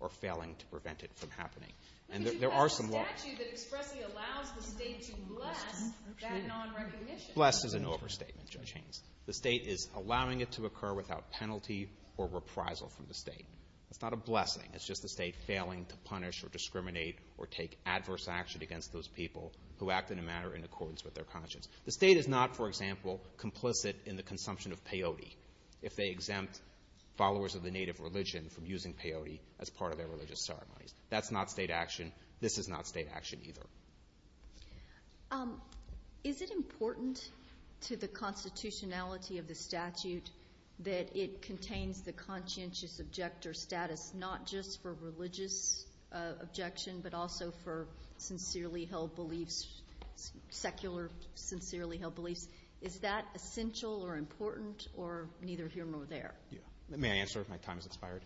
or failing to prevent it from happening. And there are some laws – But you have a statute that expressly allows the state to bless that nonrecognition. Bless is an overstatement, Judge Haynes. The state is allowing it to occur without penalty or reprisal from the state. It's not a blessing. It's just the state failing to punish or discriminate or take adverse action against those people who act in a manner in accordance with their conscience. The state is not, for example, complicit in the consumption of peyote if they exempt followers of the native religion from using peyote as part of their religious ceremonies. That's not state action. This is not state action either. Is it important to the constitutionality of the statute that it contains the conscientious objector status not just for religious objection but also for sincerely held beliefs, secular sincerely held beliefs? Is that essential or important or neither here nor there? Let me answer if my time has expired.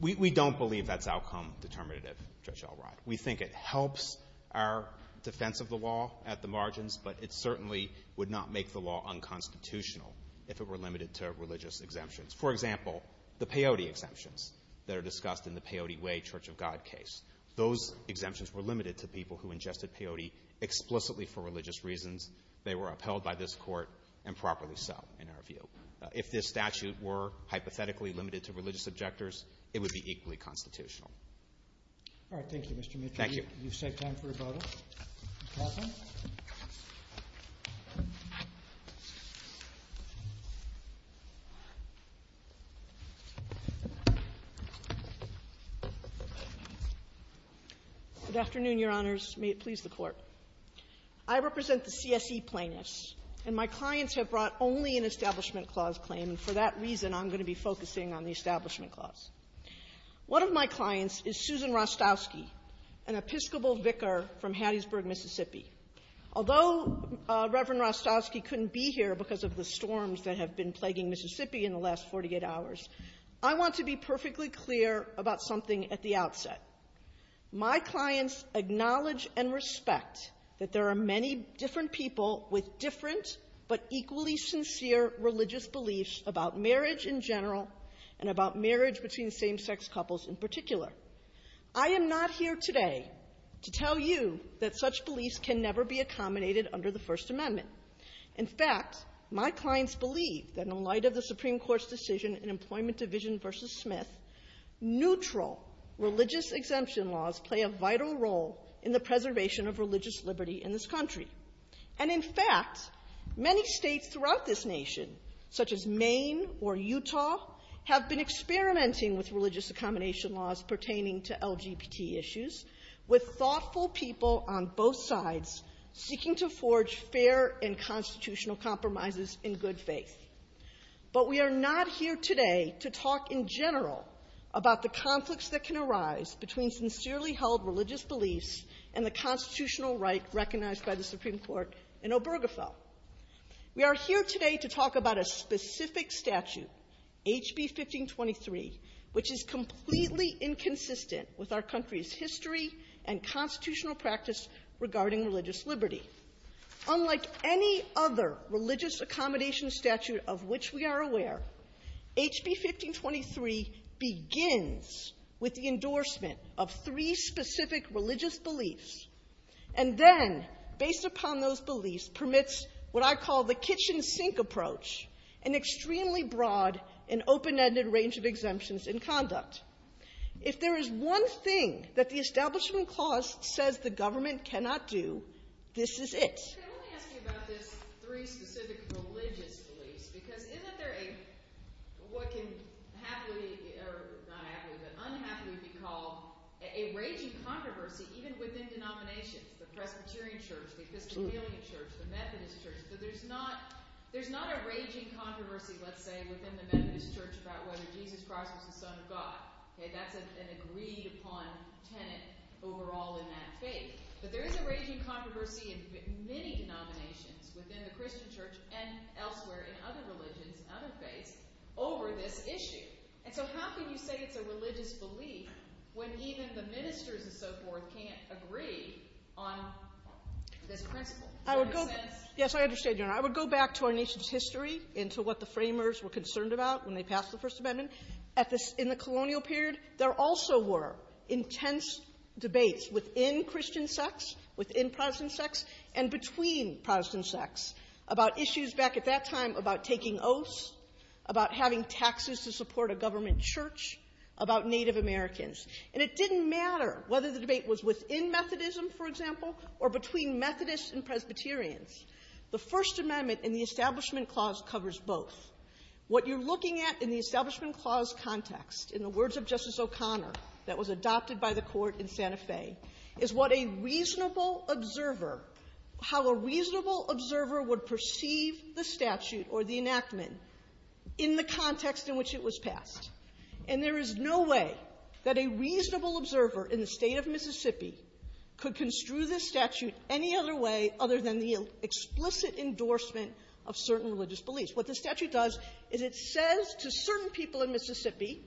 We don't believe that's outcome determinative, Judge Elrod. We think it helps our defense of the law at the margins, but it certainly would not make the law unconstitutional if it were limited to religious exemptions. For example, the peyote exemptions that are discussed in the Peyote Way Church of God case. Those exemptions were limited to people who ingested peyote explicitly for religious reasons. They were upheld by this court and properly so in our view. If this statute were hypothetically limited to religious objectors, it would be equally constitutional. All right. Thank you, Mr. Mitchell. Thank you. Can you step down for a moment? Good afternoon, Your Honors. May it please the Court. I represent the CSE plaintiffs, and my clients have brought only an Establishment Clause claim. For that reason, I'm going to be focusing on the Establishment Clause. One of my clients is Susan Rostowski, an Episcopal vicar from Hattiesburg, Mississippi. Although Reverend Rostowski couldn't be here because of the storms that have been plaguing Mississippi in the last 48 hours, I want to be perfectly clear about something at the outset. My clients acknowledge and respect that there are many different people with different but equally sincere religious beliefs about marriage in general and about marriage between same-sex couples in particular. I am not here today to tell you that such beliefs can never be accommodated under the First Amendment. In fact, my clients believe that in light of the Supreme Court's decision in Employment Division v. Smith, neutral religious exemption laws play a vital role in the preservation of religious liberty in this country. And in fact, many states throughout this nation, such as Maine or Utah, have been experimenting with religious accommodation laws pertaining to LGBT issues, with thoughtful people on both sides seeking to forge fair and constitutional compromises in good faith. But we are not here today to talk in general about the conflicts that can arise between sincerely held religious beliefs and the constitutional right recognized by the Supreme Court in Obergefell. We are here today to talk about a specific statute, HB 1523, which is completely inconsistent with our country's history and constitutional practice regarding religious liberty. Unlike any other religious accommodation statute of which we are aware, HB 1523 begins with the endorsement of three specific religious beliefs, and then, based upon those beliefs, permits what I call the kitchen sink approach, an extremely broad and open-ended range of exemptions in conduct. If there is one thing that the Establishment Clause says the government cannot do, this is it. Could I ask you about these three specific religious beliefs? Because isn't there what can happily be called a raging controversy even within denominations? The Presbyterian Church, the Episcopalian Church, the Methodist Church. There's not a raging controversy, let's say, within the Methodist Church about whether Jesus Christ is the Son of God. That's an agreed-upon tenet overall in that case. So there's a raging controversy in many denominations within the Christian Church and elsewhere in other religions and other faiths over this issue. And so how can you say it's a religious belief when even the ministers and so forth can't agree on the principle? Yes, I understand, Your Honor. I would go back to our nation's history and to what the framers were concerned about when they passed the First Amendment. In the colonial period, there also were intense debates within Christian sects, within Protestant sects, and between Protestant sects about issues back at that time about taking oaths, about having taxes to support a government church, about Native Americans. And it didn't matter whether the debate was within Methodism, for example, or between Methodists and Presbyterians. The First Amendment and the Establishment Clause covers both. What you're looking at in the Establishment Clause context, in the words of Justice O'Connor, that was adopted by the Court in Santa Fe, is what a reasonable observer, how a reasonable observer would perceive the statute or the enactment in the context in which it was passed. And there is no way that a reasonable observer in the state of Mississippi could construe this statute any other way other than the explicit endorsement of certain religious beliefs. What the statute does is it says to certain people in Mississippi,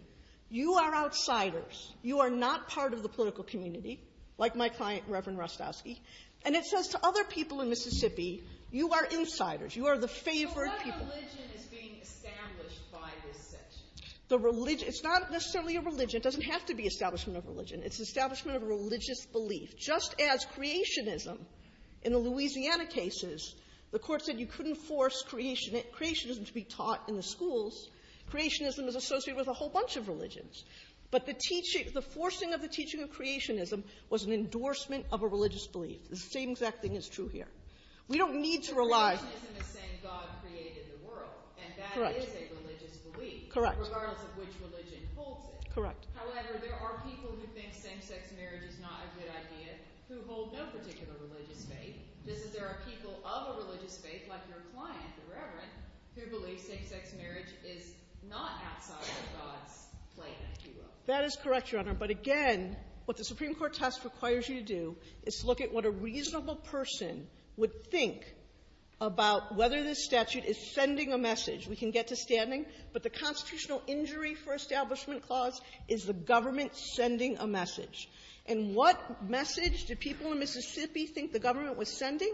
you are outsiders, you are not part of the political community, like my client, Reverend Russkowski. And it says to other people in Mississippi, you are insiders, you are the favored people. So what religion is being established by this? It's not necessarily a religion. It doesn't have to be establishment of religion. It's establishment of a religious belief. Just as creationism in the Louisiana cases, the Court said you couldn't force creationism to be taught in the schools. Creationism is associated with a whole bunch of religions. But the teaching, the forcing of the teaching of creationism was an endorsement of a religious belief. The same exact thing is true here. Creationism is saying God created the world. And that is a religious belief, regardless of which religion holds it. However, there are people who think same-sex marriage is not a good idea who hold that particular religion faith. There are people of a religious faith, like your client, the Reverend, who believe same-sex marriage is not outside of God's plan. That is correct, Your Honor, but again, what the Supreme Court test requires you to do is look at what a reasonable person would think about whether the statute is sending a message. We can get to standing, but the constitutional injury for establishment of is the government sending a message. And what message do people in Mississippi think the government was sending?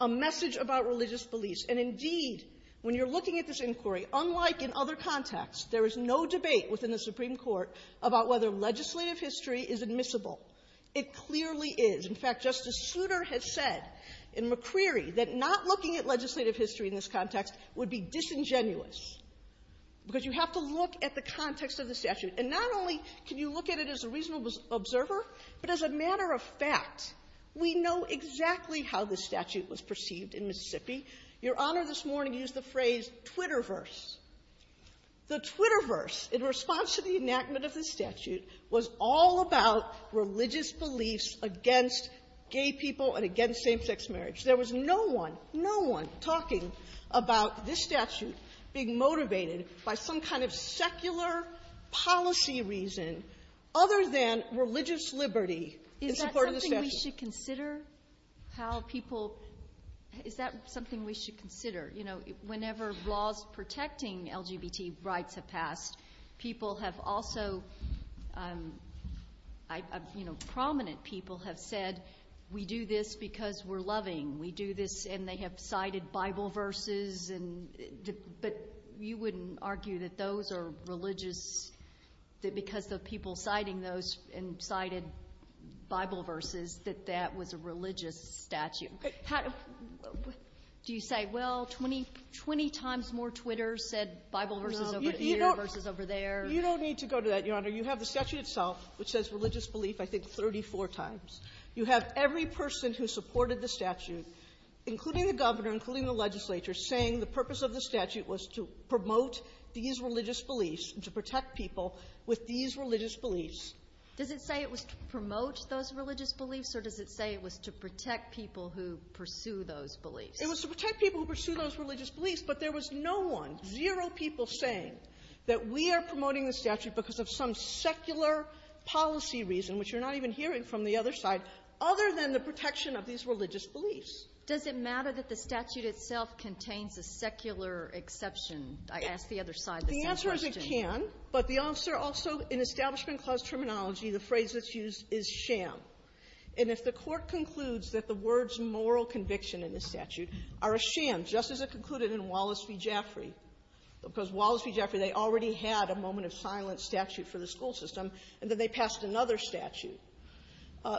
A message about religious beliefs. And indeed, when you're looking at this inquiry, unlike in other contexts, there is no debate within the Supreme Court about whether legislative history is admissible. It clearly is. In fact, Justice Souter has said in McCreary that not looking at legislative history in this context would be disingenuous, because you have to look at the context of the statute. And not only can you look at it as a reasonable observer, but as a matter of fact, we know exactly how this statute was perceived in Mississippi. Your Honor this morning used the phrase Twitterverse. The Twitterverse, in response to the enactment of the statute, was all about religious beliefs against gay people and against same-sex marriage. There was no one, no one, talking about this statute being motivated by some kind of secular policy reason other than religious liberty in support of the statute. Is that something we should consider? Whenever laws protecting LGBT rights have passed, people have also, prominent people have said, we do this because we're loving. We do this, and they have cited Bible verses. But you wouldn't argue that those are religious, that because of people citing those and cited Bible verses, that that was a religious statute? Do you say, well, 20 times more Twitters said Bible verses over here versus over there? You don't need to go to that, Your Honor. You have the statute itself, which says religious belief, I think, 34 times. You have every person who supported the statute, including the governor, including the legislature, saying the purpose of the statute was to promote these religious beliefs and to protect people with these religious beliefs. Does it say it was to promote those religious beliefs, or does it say it was to protect people who pursue those beliefs? It was to protect people who pursue those religious beliefs, but there was no one, zero people saying that we are promoting the statute because of some secular policy reason, which you're not even hearing from the other side, other than the protection of these religious beliefs. Does it matter that the statute itself contains the secular exception? The answer is it can, but the officer also, in Establishment Clause terminology, the phrase that's used is sham. And if the court concludes that the words moral conviction in the statute are a sham, just as it concluded in Wallace v. Jeffrey, because Wallace v. Jeffrey, they already had a moment of silence statute for the school system, and then they passed another statute.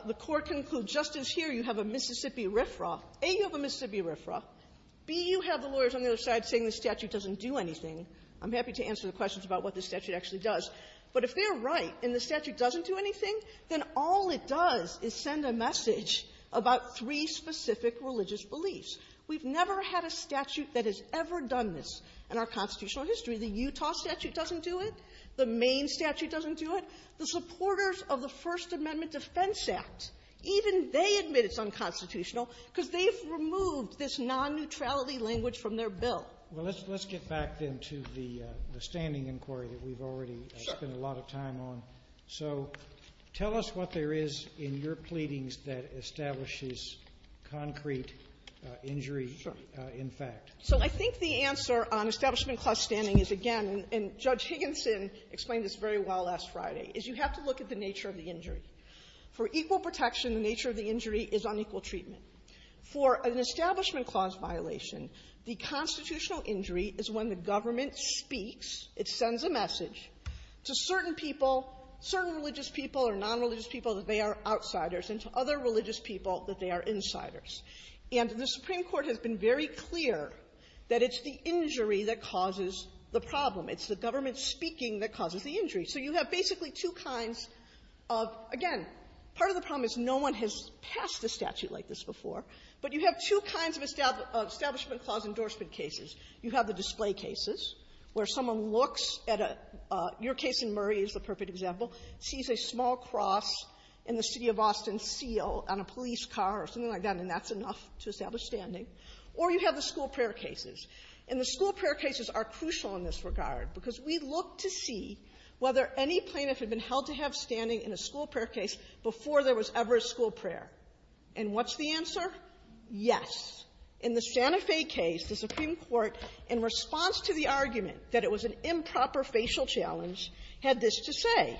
The court concludes, just as here, you have a Mississippi riffraff. A, you have a Mississippi riffraff. B, you have the lawyers on the other side saying the statute doesn't do anything. I'm happy to answer the questions about what the statute actually does, but if they're right and the statute doesn't do anything, then all it does is send a message about three specific religious beliefs. We've never had a statute that has ever done this in our constitutional history. The Utah statute doesn't do it. The Maine statute doesn't do it. The supporters of the First Amendment Defense Act, even they admit it's unconstitutional because they've removed this non-neutrality language from their bill. Well, let's get back, then, to the standing inquiry that we've already spent a lot of time on. So tell us what there is in your pleadings that establishes concrete injury in fact. So I think the answer on establishment clause standing is, again, and Judge Higginson explained this very well last Friday, is you have to look at the nature of the injury. For equal protection, the nature of the injury is unequal treatment. For an establishment clause violation, the constitutional injury is when the government speaks, it sends a message to certain people, certain religious people or non-religious people, that they are outsiders, and to other religious people that they are insiders. And the Supreme Court has been very clear that it's the injury that causes the problem. So you have basically two kinds of, again, part of the problem is no one has passed the statute like this before, but you have two kinds of establishment clause endorsement cases. You have the display cases, where someone looks at a, your case in Murray is the perfect example, sees a small cross in the city of Austin seal on a police car or something like that, and that's enough to establish standing. Or you have the school prayer cases. And the school prayer cases are crucial in this regard, because we look to see whether any plaintiff had been held to have standing in a school prayer case before there was ever a school prayer. And what's the answer? Yes. In the Santa Fe case, the Supreme Court, in response to the argument that it was an improper facial challenge, had this to say.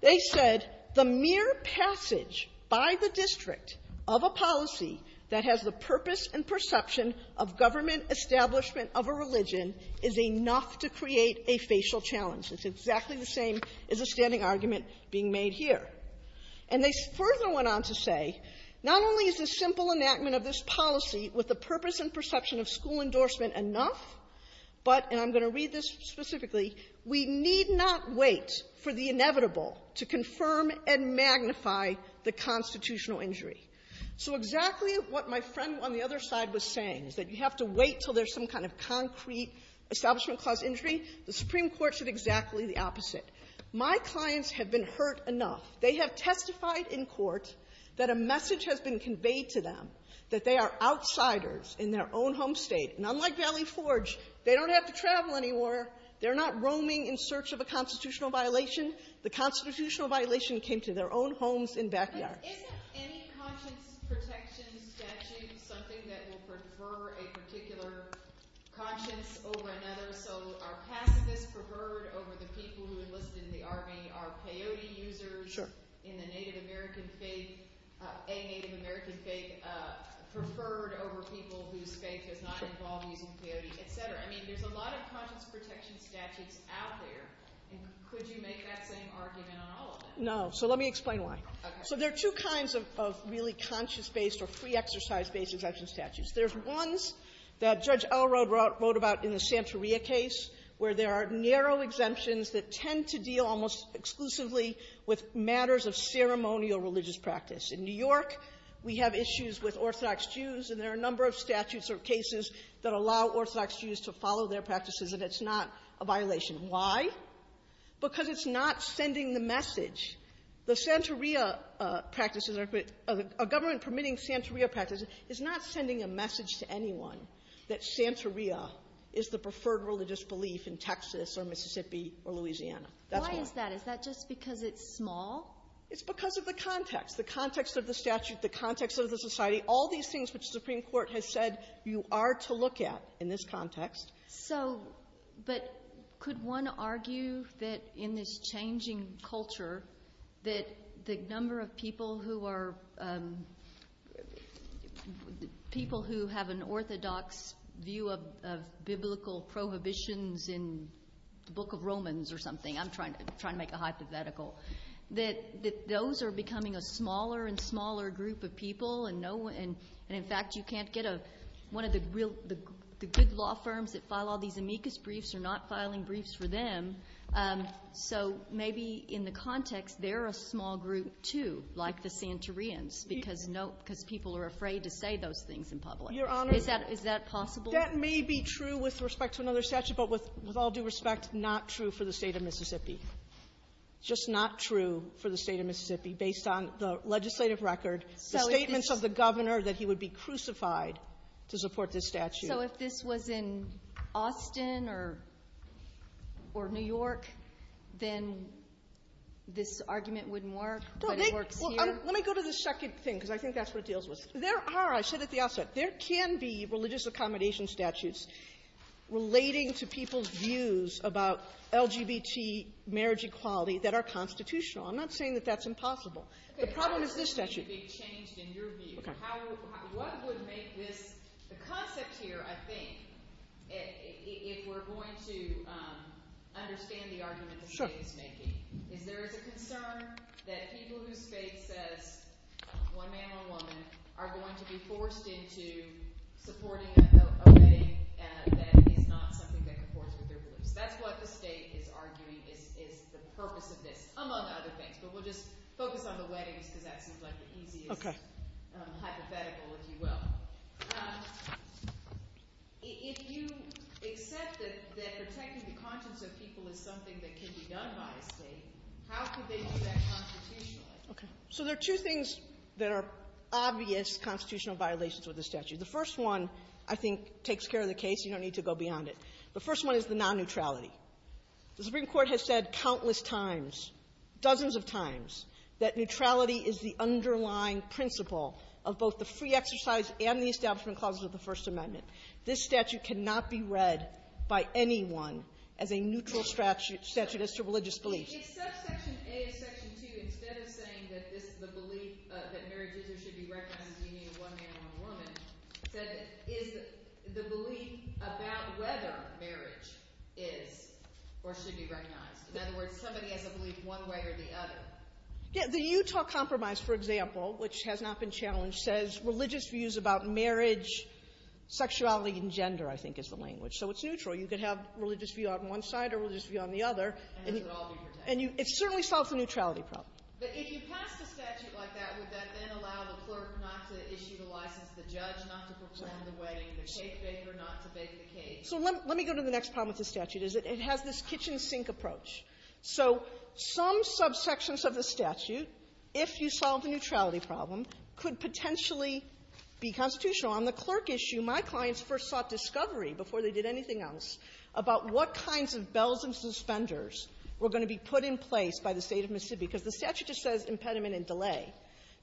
They said, the mere passage by the district of a policy that has the purpose and perception of government establishment of a religion is enough to create a facial challenge. It's exactly the same as the standing argument being made here. And they further went on to say, not only is the simple enactment of this policy with the purpose and perception of school endorsement enough, but, and I'm going to read this specifically, we need not wait for the inevitable to confirm and magnify the constitutional injury. So exactly what my friend on the other side was saying, that you have to wait until there's some kind of concrete establishment cause injury, the Supreme Court said exactly the opposite. My clients have been hurt enough. They have testified in court that a message has been conveyed to them that they are outsiders in their own home state. And unlike Valley Forge, they don't have to travel anymore. They're not roaming in search of a constitutional violation. The constitutional violation came to their own homes in backyard. Is any conscience protection statute something that would prefer a particular conscience over another? So are passivists preferred over the people who enlisted in the Army? Are peyote users in a Native American state, a Native American state, preferred over people whose faith does not involve using peyote, et cetera? I mean, there's a lot of conscience protection statutes out there. Could you make that same argument on all of them? No. So let me explain why. So there are two kinds of really conscience-based or pre-exercise-based addressing statutes. There's ones that Judge Elrow wrote about in the Santeria case, where there are narrow exemptions that tend to deal almost exclusively with matters of ceremonial religious practice. In New York, we have issues with Orthodox Jews, and there are a number of statutes or cases that allow Orthodox Jews to follow their practices if it's not a violation. Why? Because it's not sending the message. The Santeria practices are good. A government permitting Santeria practices is not sending a message to anyone that Santeria is the preferred religious belief in Texas or Mississippi or Louisiana. Why is that? Is that just because it's small? It's because of the context, the context of the statute, the context of the society, all these things which the Supreme Court has said you are to look at in this context. But could one argue that in this changing culture, that the number of people who have an Orthodox view of biblical prohibitions in the Book of Romans or something, I'm trying to make a hypothetical, that those are becoming a smaller and smaller group of people, and in fact, you can't get one of the good law firms that file all these amicus briefs are not filing briefs for them. So maybe in the context, they're a small group, too, like the Santerians, because people are afraid to say those things in public. Is that possible? Your Honor, that may be true with respect to another statute, but with all due respect, not true for the State of Mississippi. Just not true for the State of Mississippi based on the legislative record. The statements of the governor that he would be crucified to support this statute. So if this was in Austin or New York, then this argument wouldn't work? Let me go to the second thing, because I think that's what it deals with. There are, I said at the outset, there can be religious accommodation statutes relating to people's views about LGBT marriage equality that are constitutional. I'm not saying that that's impossible. The problem is this statute. How would this be changed in your view? What would make this the context here, I think, if we're going to understand the argument the State is making? Is there a concern that people whose faith says one man, one woman, are going to be forced into supporting a thing that is not something they can afford to do? That's what the State is arguing is the purpose of this, among other things. But we'll just focus on the wedding because that seems like the easier hypothetical, if you will. If you accept that protecting the conscience of people is something that can be done by the State, how could they do that constitutionally? So there are two things that are obvious constitutional violations with this statute. The first one, I think, takes care of the case. You don't need to go beyond it. The first one is the non-neutrality. The Supreme Court has said countless times, dozens of times, that neutrality is the underlying principle of both the free exercise and the establishment clause of the First Amendment. This statute cannot be read by anyone as a neutral statute as to religious beliefs. If Section A and Section 2, instead of saying that marriage is or should be recognized as meaning one man, one woman, that is the belief about whether marriage is or should be recognized. In other words, somebody has a belief one way or the other. The Utah Compromise, for example, which has not been challenged, says religious views about marriage, sexuality, and gender, I think, is the language. So it's neutral. You can have a religious view on one side or a religious view on the other. And it certainly solves the neutrality problem. But if you passed the statute like that, would that then allow the clerk not to issue the license, the judge not to perform the wedding, the cake baker not to bake the cake? So let me go to the next problem with the statute. It has this kitchen sink approach. So some subsections of the statute, if you solve the neutrality problem, could potentially be constitutional. On the clerk issue, my clients first sought discovery before they did anything else about what kinds of bells and suspenders were going to be put in place by the state of Mississippi. Because the statute just says impediment and delay.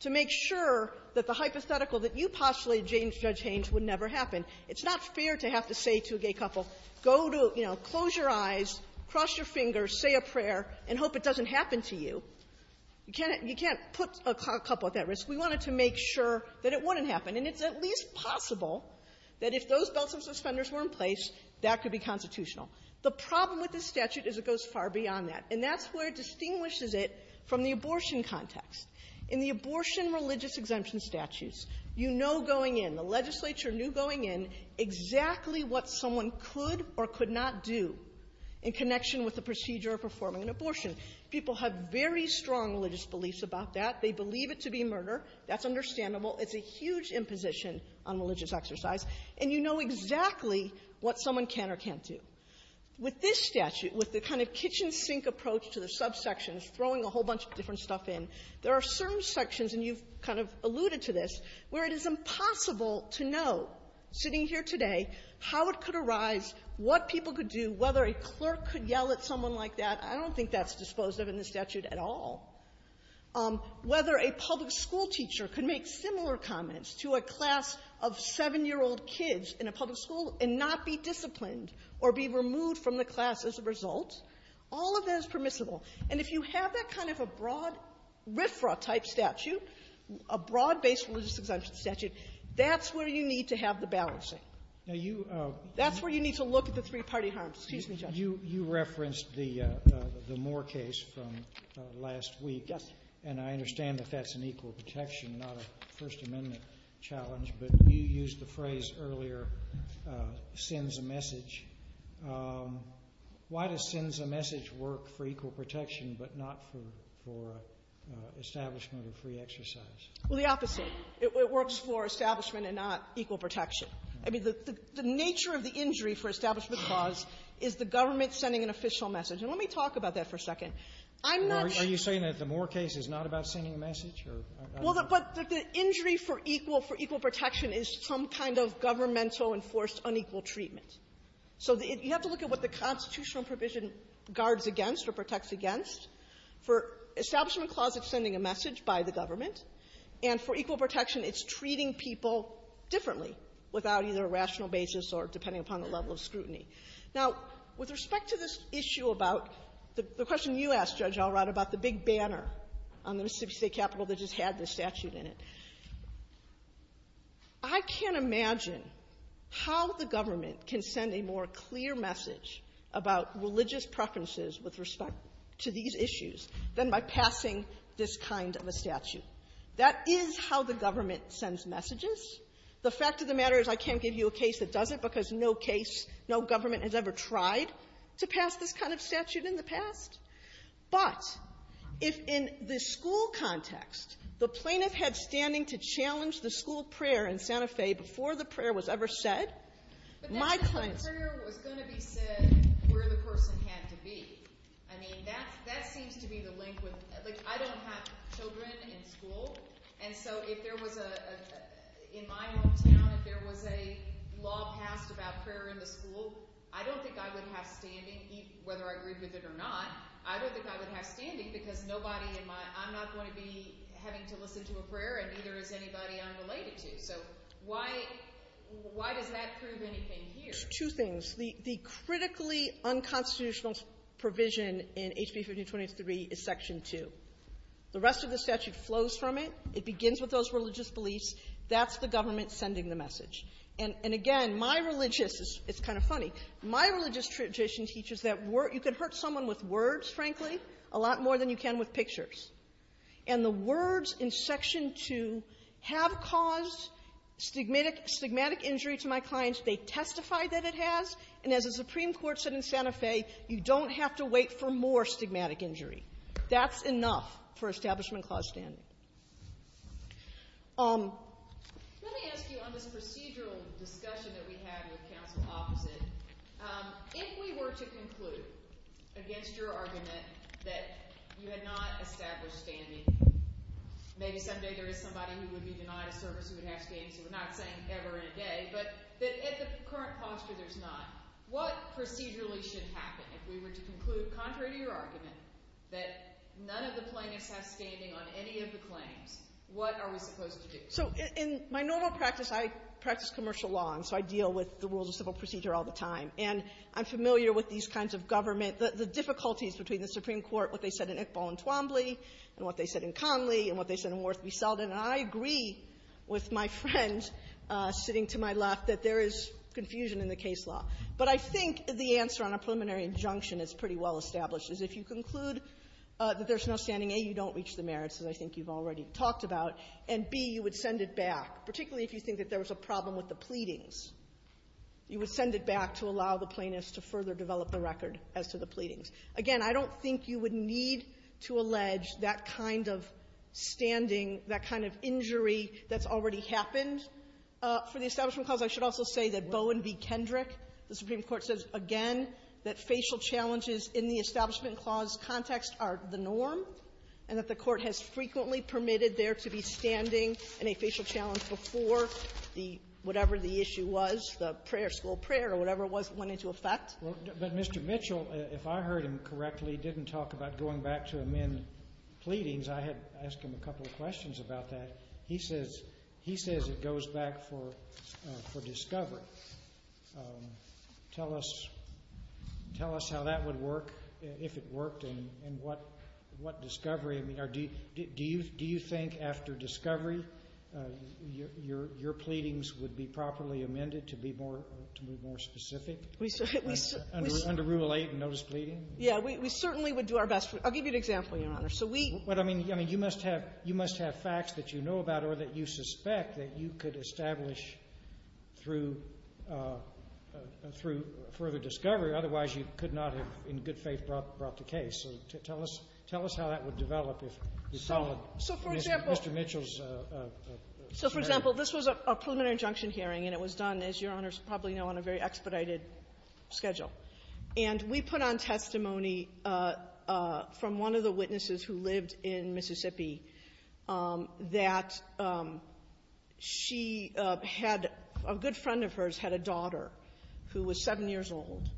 To make sure that the hypothetical that you postulated, Judge Haynes, would never happen, it's not fair to have to say to a gay couple, close your eyes, cross your fingers, say a prayer, and hope it doesn't happen to you. You can't put a couple at that risk. We wanted to make sure that it wouldn't happen. And it's at least possible that if those bells and suspenders were in place, that could be constitutional. The problem with this statute is it goes far beyond that. And that's where it distinguishes it from the abortion context. In the abortion religious exemption statutes, you know going in, the legislature knew going in exactly what someone could or could not do in connection with the procedure of performing an abortion. People have very strong religious beliefs about that. They believe it to be murder. That's understandable. It's a huge imposition on religious exercise. And you know exactly what someone can or can't do. With this statute, with the kind of kitchen sink approach to the subsections, throwing a whole bunch of different stuff in, there are certain sections, and you've kind of alluded to this, where it is impossible to know, sitting here today, how it could arise, what people could do, whether a clerk could yell at someone like that. I don't think that's disposed of in the statute at all. Whether a public school teacher could make similar comments to a class of seven-year-old kids in a public school and not be disciplined or be removed from the class as a result, all of that is permissible. And if you have that kind of a broad risk-free type statute, a broad-based religious exemption statute, that's where you need to have the balancing. That's where you need to look at the three-party harm. Excuse me, Judge. You referenced the Moore case from last week. Yes. And I understand that that's an equal protection, not a First Amendment challenge. But you used the phrase earlier, sends a message. Why does sends a message work for equal protection but not for establishment of free exercise? Well, the opposite. It works for establishment and not equal protection. I mean, the nature of the injury for establishment clause is the government sending an official message. And let me talk about that for a second. I'm not going to ---- Are you saying that the Moore case is not about sending a message or ---- Well, but the injury for equal protection is some kind of governmental enforced unequal treatment. So you have to look at what the constitutional provision guards against or protects against. For establishment clause, it's sending a message by the government. And for equal protection, it's treating people differently without either a rational basis or depending upon the level of scrutiny. Now, with respect to this issue about the question you asked, Judge Alright, about the big banner on the Mississippi State Capitol that just had the statute in it, I can't imagine how the government can send a more clear message about religious preferences with respect to these issues than by passing this kind of a statute. That is how the government sends messages. The fact of the matter is I can't give you a case that doesn't because no case, no government has ever tried to pass this kind of statute in the past. But if in the school context the plaintiff had standing to challenge the school prayer in Santa Fe before the prayer was ever said, my plaintiff ---- But if the prayer was going to be said where the person had to be, I mean, that seems to be the link with ---- I don't have children in school, and so if there was a ---- in my home town, if there was a law passed about prayer in the school, I don't think I would have standing, whether I agree with it or not. I don't think I would have standing because nobody in my ---- I'm not going to be having to listen to a prayer and neither is anybody I'm related to. So why does that prove anything here? Two things. The critically unconstitutional provision in HB 1523 is Section 2. The rest of the statute flows from it. It begins with those religious beliefs. That's the government sending the message. And again, my religious ---- it's kind of funny. My religious tradition teaches that you can hurt someone with words, frankly, a lot more than you can with pictures. And the words in Section 2 have caused stigmatic injury to my clients. They testify that it has, and as the Supreme Court said in Santa Fe, you don't have to wait for more stigmatic injury. That's enough for establishment-caused standing. Let me ask you on the procedural discussion that we had with counsel officers, if we were to conclude against your argument that you had not established standing, maybe someday there is somebody who would be denied a service who would have standing, we're not saying ever and a day, but at the current posture there's not, what procedurally should happen if we were to conclude contrary to your argument that none of the plaintiffs have standing on any of the claims? What are we supposed to do? So in my normal practice, I practice commercial law, and so I deal with the rules of civil procedure all the time. And I'm familiar with these kinds of government, the difficulties between the Supreme Court, what they said in Iqbal and Twombly, and what they said in Connolly, and what they said in Worthy Selden. And I agree with my friend sitting to my left that there is confusion in the case law. But I think the answer on a preliminary injunction is pretty well established, is if you conclude that there's no standing, A, you don't reach the merits that I think you've already talked about, and B, you would send it back, particularly if you think that there was a problem with the pleadings. You would send it back to allow the plaintiffs to further develop the record as to the pleadings. Again, I don't think you would need to allege that kind of standing, that kind of injury that's already happened. For the establishment clause, I should also say that Bowen v. Kendrick, the Supreme Court says again that facial challenges in the establishment clause context are the norm, and that the Court has frequently permitted there to be standing in a facial challenge before the whatever the issue was, the prayer, slow prayer, or whatever it was that went into effect. But Mr. Mitchell, if I heard him correctly, didn't talk about going back to amend pleadings. I had asked him a couple of questions about that. He says it goes back for discovery. Tell us how that would work, if it worked, and what discovery. Do you think after discovery your pleadings would be properly amended to be more specific? Under Rule 8, the notice of pleading? Yeah, we certainly would do our best. I'll give you an example, Your Honor. You must have facts that you know about or that you suspect that you could establish through further discovery. Otherwise, you could not have in good faith brought the case. So tell us how that would develop if we followed Mr. Mitchell's scenario. So, for example, this was a preliminary injunction hearing, and it was done, as Your Honors probably know, on a very expedited schedule. And we put on testimony from one of the witnesses who lived in Mississippi that she had, a good friend of hers had a daughter who was seven years old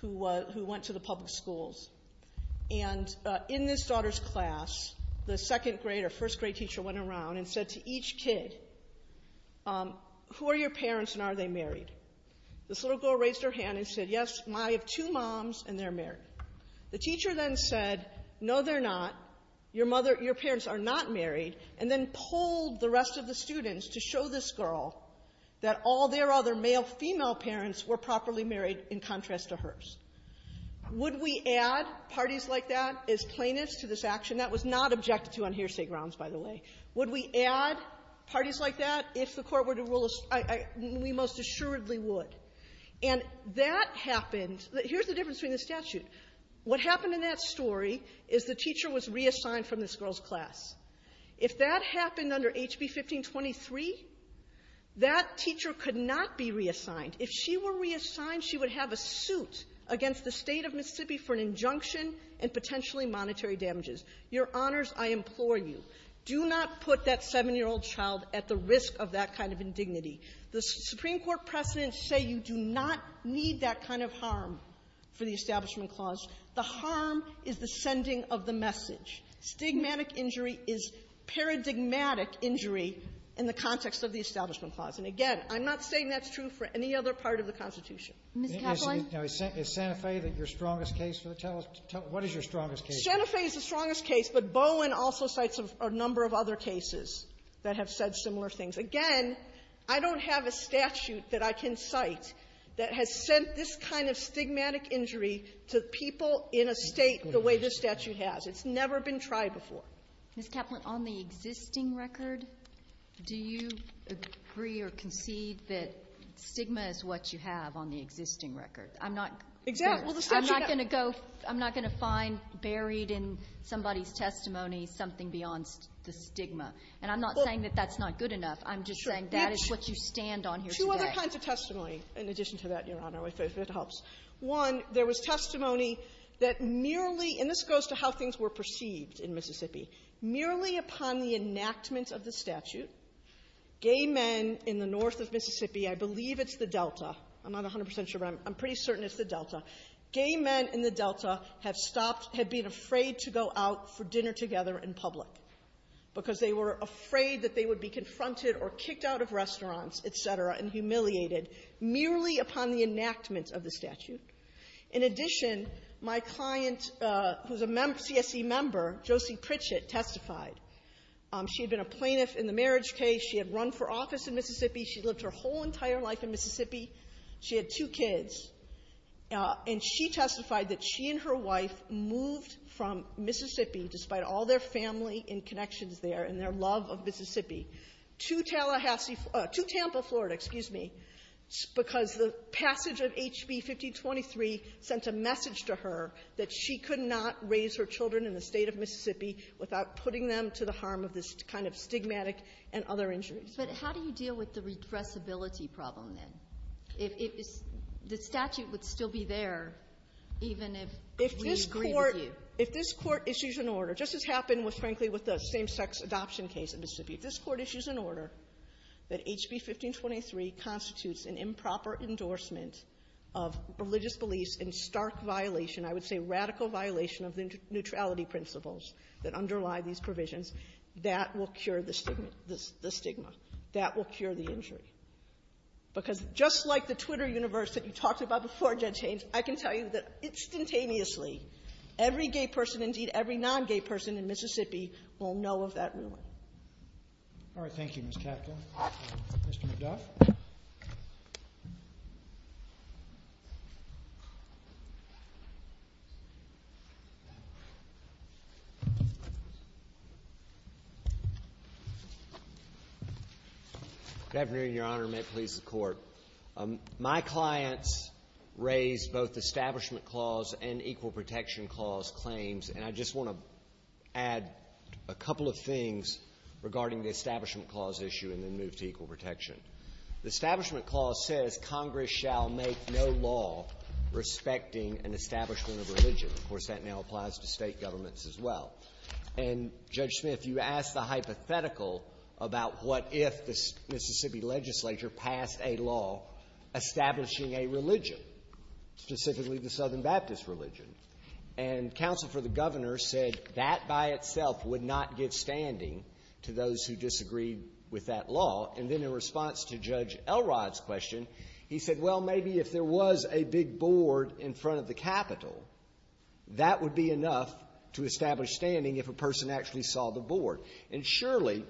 who went to the public schools. And in this daughter's class, the second grade or first grade teacher went around and said to each kid, who are your parents and are they married? This little girl raised her hand and said, yes, I have two moms and they're married. The teacher then said, no, they're not. Your parents are not married. And then polled the rest of the students to show this girl that all their other male and female parents were properly married in contrast to hers. Would we add parties like that as plaintiffs to this action? That was not objected to on hearsay grounds, by the way. Would we add parties like that if the Court were to rule as we most assuredly would? And that happened. Here's the difference between the statute. What happened in that story is the teacher was reassigned from this girl's class. If that happened under HB 1523, that teacher could not be reassigned. If she were reassigned, she would have a suit against the State of Mississippi for an injunction and potentially monetary damages. Your Honors, I implore you. Do not put that seven-year-old child at the risk of that kind of indignity. The Supreme Court precedents say you do not need that kind of harm for the Establishment Clause. The harm is the sending of the message. Stigmatic injury is paradigmatic injury in the context of the Establishment Clause. And again, I'm not saying that's true for any other part of the Constitution. Kagan. Sotomayor, is Santa Fe your strongest case? What is your strongest case? Santa Fe is the strongest case, but Bowen also cites a number of other cases that have said similar things. Again, I don't have a statute that I can cite that has sent this kind of stigmatic injury to people in a state the way this statute has. It's never been tried before. Ms. Kaplan, on the existing record, do you agree or concede that stigma is what you have on the existing record? I'm not going to go – I'm not going to find buried in somebody's testimony something beyond the stigma. And I'm not saying that that's not good enough. I'm just saying that is what you stand on here today. Two other kinds of testimony in addition to that, Your Honor, if that helps. One, there was testimony that merely – and this goes to how things were perceived in Mississippi. Merely upon the enactment of the statute, gay men in the north of Mississippi – I believe it's the Delta. I'm not 100 percent sure, but I'm pretty certain it's the Delta – gay men in the Delta had stopped – had been afraid to go out for dinner together in public because they were afraid that they would be confronted or kicked out of restaurants, et cetera, and humiliated merely upon the enactment of the statute. In addition, my client, who's a CSC member, Josie Pritchett, testified. She had been a plaintiff in the marriage case. She had run for office in Mississippi. She lived her whole entire life in Mississippi. She had two kids. And she testified that she and her wife moved from Mississippi, despite all their family and connections there and their love of Mississippi, to Tallahassee – to Tampa, Florida – excuse me – because the passage of HB 1523 sent a message to her that she could not raise her children in the state of Mississippi without putting them to the harm of this kind of stigmatic and other injuries. But how do you deal with the regressibility problem, then? If the statute would still be there, even if we agree with you? If this court issues an order – just as happened, frankly, with the same-sex adoption case in Mississippi – if this court issues an order that HB 1523 constitutes an improper endorsement of religious beliefs in stark violation – I would say radical violation – of the neutrality principles that underlie these provisions, that will cure the stigma. That will cure the injury. Because just like the Twitter universe that you talked about before, Judge Haynes, I can tell you that instantaneously, every gay person – indeed, every non-gay person – in Mississippi will know of that ruin. All right. Thank you, Ms. Kaplan. Mr. McDuff? Good afternoon, Your Honor, and may it please the Court. My clients raised both the Establishment Clause and Equal Protection Clause claims, and I just want to add a couple of things regarding the Establishment Clause issue and the move to equal protection. The Establishment Clause says Congress shall make no law respecting an establishment of religion. Of course, that now applies to State governments as well. And, Judge Smith, you asked a hypothetical about what if the Mississippi legislature passed a law establishing a religion, specifically the Southern Baptist religion. And counsel for the governor said that by itself would not give standing to those who disagreed with that law. And then in response to Judge Elrod's question, he said, well, maybe if there was a big board in front of the Capitol, that would be enough to establish standing if a person actually saw the board. And surely,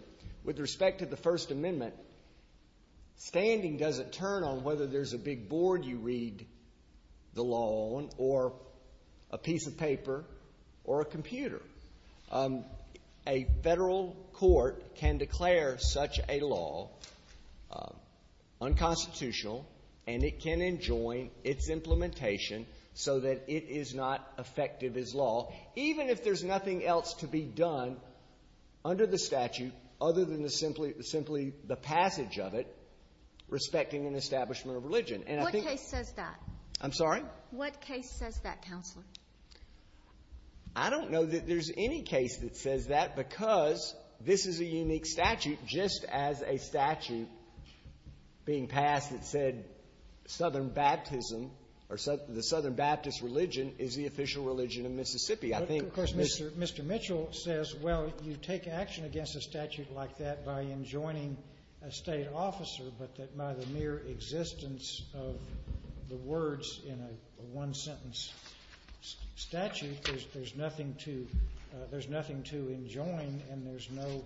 with respect to the First Amendment, standing doesn't turn on whether there's a big board you read the law on or a piece of paper or a computer. A federal court can declare such a law unconstitutional, and it can enjoin its implementation so that it is not effective as law. Even if there's nothing else to be done under the statute other than simply the passage of it respecting an establishment of religion. And I think... What case says that? I'm sorry? What case says that, counsel? I don't know that there's any case that says that because this is a unique statute just as a statute being passed that said Southern Baptism or the Southern Baptist religion is the official religion in Mississippi. I think... Of course, Mr. Mitchell says, well, you take action against a statute like that by enjoining a state officer, but that by the mere existence of the words in a one-sentence statute, there's nothing to enjoin and there's no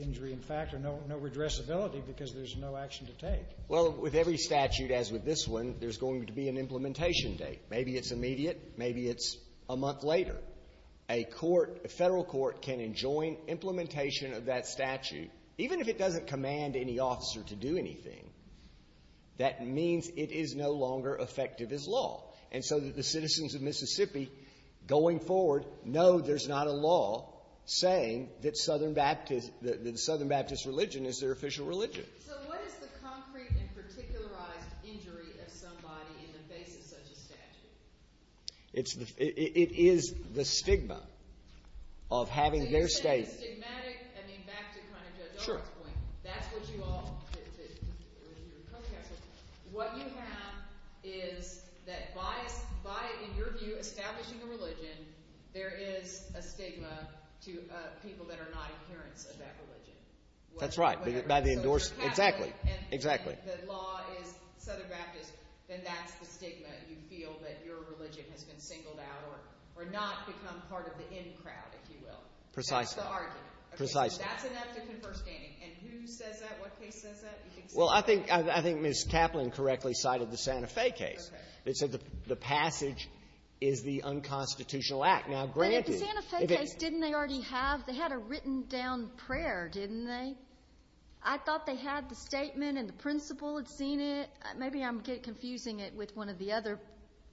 injury in fact or no redressability because there's no action to take. Well, with every statute as with this one, there's going to be an implementation date. Maybe it's immediate. Maybe it's a month later. A court, a federal court can enjoin implementation of that statute even if it doesn't command any officer to do anything. That means it is no longer effective as law. And so that the citizens of Mississippi going forward know there's not a law saying that Southern Baptist religion is their official religion. So what is the concrete and particularized injury that somebody in the state has such a statute? It is the stigma of having their state... Stigmatic, I mean, that's the kind of... Sure. That's what you all... What you have is that by endorsing, establishing a religion, there is a stigma to people that are not adherents of that religion. That's right. By the endorsement... Exactly. Exactly. If the law is Southern Baptist, then that's the stigma that you feel that your religion has been singled out or not become part of the in crowd, if you will. Precisely. That's the argument. Precisely. That's an ethical understanding. And who says that? What state says that? Well, I think Ms. Kaplan correctly cited the Santa Fe case. Okay. They said the passage is the unconstitutional act. Now, granted... But the Santa Fe case, didn't they already have... I thought they had the statement and the principal had seen it. Maybe I'm confusing it with one of the other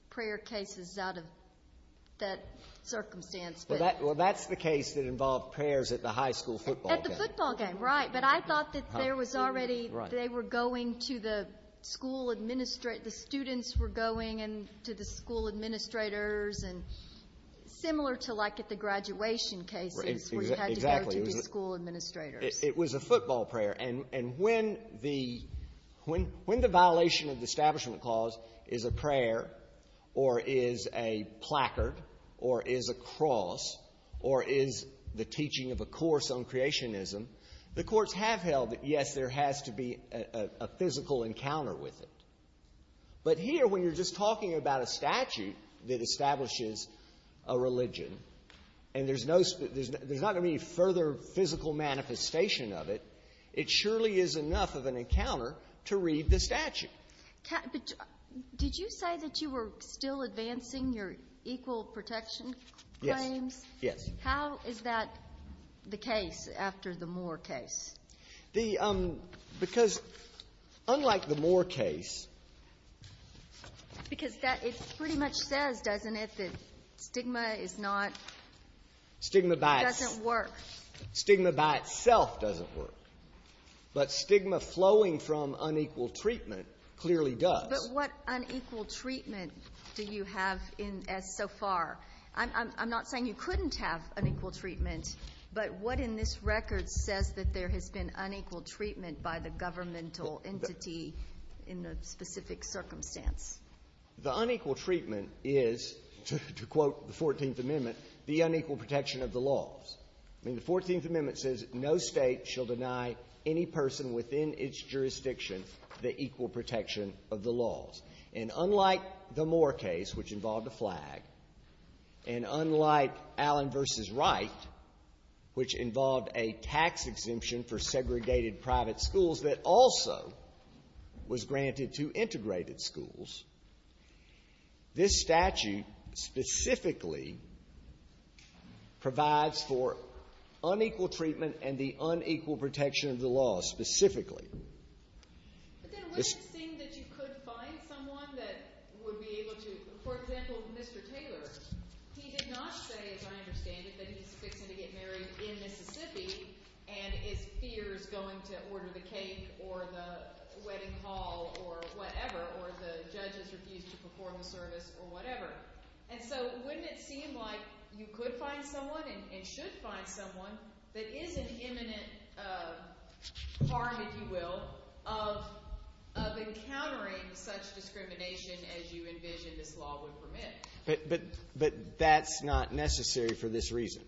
prayer cases out of that circumstance. Well, that's the case that involved prayers at the high school football game. At the football game, right. But I thought that there was already... Right. They were going to the school... The students were going to the school administrators and similar to like at the graduation cases... Exactly. It was a football prayer. And when the violation of the establishment clause is a prayer or is a placard or is a cross or is the teaching of a course on creationism, the courts have held that yes, there has to be a physical encounter with it. But here, when you're just talking about a statute that establishes a religion and there's not any further physical manifestation of it, it surely is enough of an encounter to read the statute. Did you say that you were still advancing your equal protection claim? Yes. How is that the case after the Moore case? Because unlike the Moore case... Because it pretty much says, doesn't it, that stigma is not... Stigma by... Doesn't work. Stigma by itself doesn't work. But stigma flowing from unequal treatment clearly does. But what unequal treatment do you have so far? I'm not saying you couldn't have unequal treatment, but what in this record says that there has been unequal treatment by the governmental entity in the specific circumstance? The unequal treatment is, to quote the 14th Amendment, the unequal protection of the laws. The 14th Amendment says no state shall deny any person within its jurisdiction the equal protection of the laws. And unlike the Moore case, which involved a flag, and unlike Allen v. Wright, which involved a tax exemption for segregated private schools that also was granted to integrated schools, this statute specifically provides for unequal treatment and the unequal protection of the laws, specifically. But then wouldn't it seem that you could find someone that would be able to... For example, Mr. Taylor. He did not say, as I understand it, that he was expecting to get married in Mississippi and feared going to order the cake or the wedding hall or whatever, or the judges refused to perform the service or whatever. And so wouldn't it seem like you could find someone and should find someone that is an imminent harm, if you will, of encountering such discrimination as you envisioned this law would permit? But that's not necessary for this reason.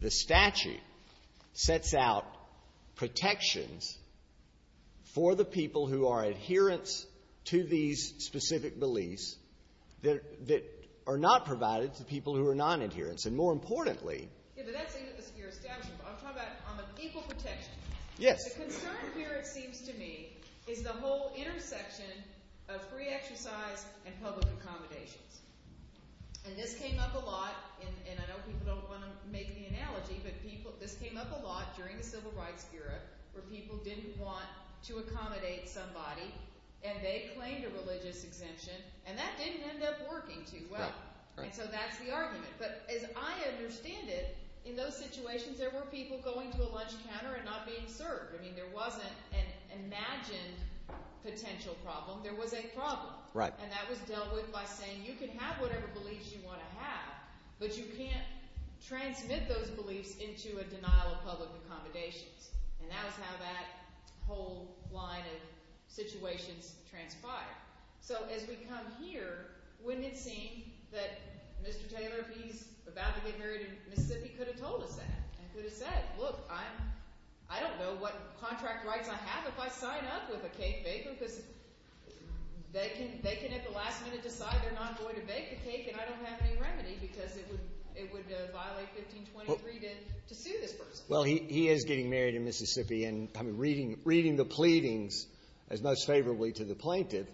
The statute sets out protections for the people who are adherents to these specific beliefs that are not provided to people who are non-adherents. And more importantly... Yeah, but that seems to be your exception. I'm talking about on the equal protection. Yes. The concern here, it seems to me, is the whole intersection of free exercise and public accommodation. And this came up a lot, and I don't think I don't want to make the analogy, but this came up a lot during the Civil Rights era where people didn't want to accommodate somebody and they claimed a religious convention, and that didn't end up working too well. And so that's the argument. But as I understand it, in those situations, there were people going to a lunch counter and not being served. I mean, there wasn't an imagined potential problem. There was a problem. Right. And that was dealt with by saying you can have whatever beliefs you want to have, but you can't transmit those beliefs into a denial of public accommodation. And that was how that whole line of situations transpired. So as we come here, wouldn't it seem that Mr. Taylor, he's about to get married in Mississippi, could have told us that and could have said, look, I don't know what contract rights I have if I sign up for the case, basically, because they can at the last minute decide they're not going to make the case and I don't have any remedy because it would violate 1523 to sue this person. Well, he is getting married in Mississippi, and reading the pleadings as most favorably to the plaintiff,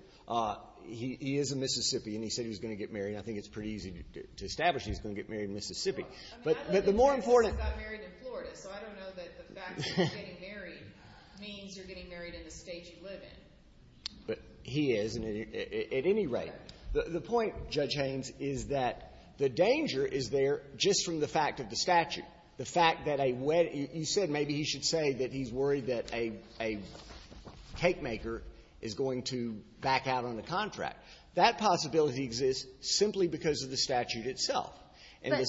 he is in Mississippi and he said he was going to get married. I think it's pretty easy to establish he's going to get married in Mississippi. But the more important – I mean, the fact that he got married in Florida, so I don't know that the fact that he's getting married means you're getting married in the State you live in. But he is at any rate. The point, Judge Haynes, is that the danger is there just from the fact of the statute. The fact that a – you said maybe he should say that he's worried that a cake maker is going to back out on the contract. That possibility exists simply because of the statute itself. But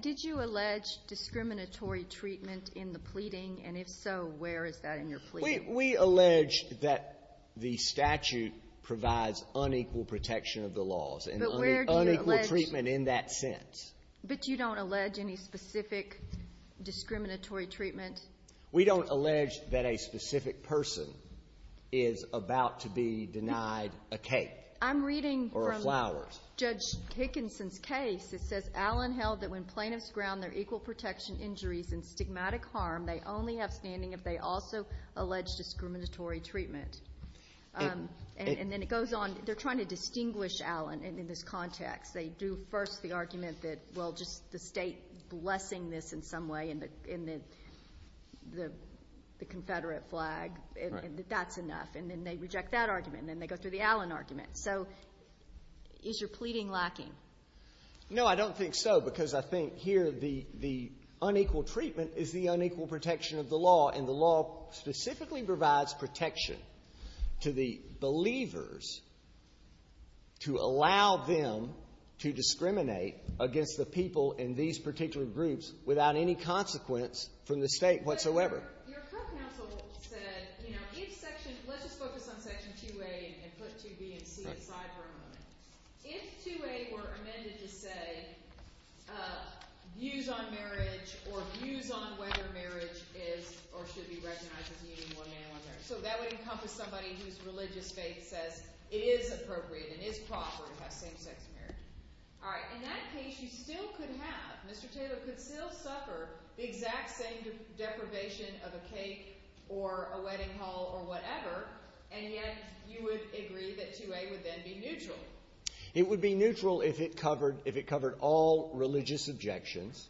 did you allege discriminatory treatment in the pleading? And if so, where is that in your pleading? We allege that the statute provides unequal protection of the laws and unequal treatment in that sense. But you don't allege any specific discriminatory treatment? We don't allege that a specific person is about to be denied a cake or a flower. In Judge Hickinson's case, it says, Allen held that when plaintiffs ground their equal protection injuries in stigmatic harm, they only have standing if they also allege discriminatory treatment. And then it goes on – they're trying to distinguish Allen in this context. They do first the argument that, well, just the State blessing this in some way in the Confederate flag and that that's enough. And then they reject that argument, and then they go through the Allen argument. So is your pleading lacking? No, I don't think so, because I think here the unequal treatment is the unequal protection of the law, and the law specifically provides protection to the believers to allow them to discriminate against the people in these particular groups without any consequence from the State whatsoever. Your court counsel said, you know, let's just focus on Section 2A and put 2B and 2C aside for a moment. If 2A were amended to say views on marriage or views on whether marriage is or should be recognized as meaning one man or another, so that would encompass somebody whose religious faith says it is appropriate and it is proper to have same-sex marriage. All right. In that case, you still could have – Mr. Taylor could still suffer the exact same deprivation of a cake or a wedding hall or whatever, and yet you would agree that 2A would then be neutral. It would be neutral if it covered all religious objections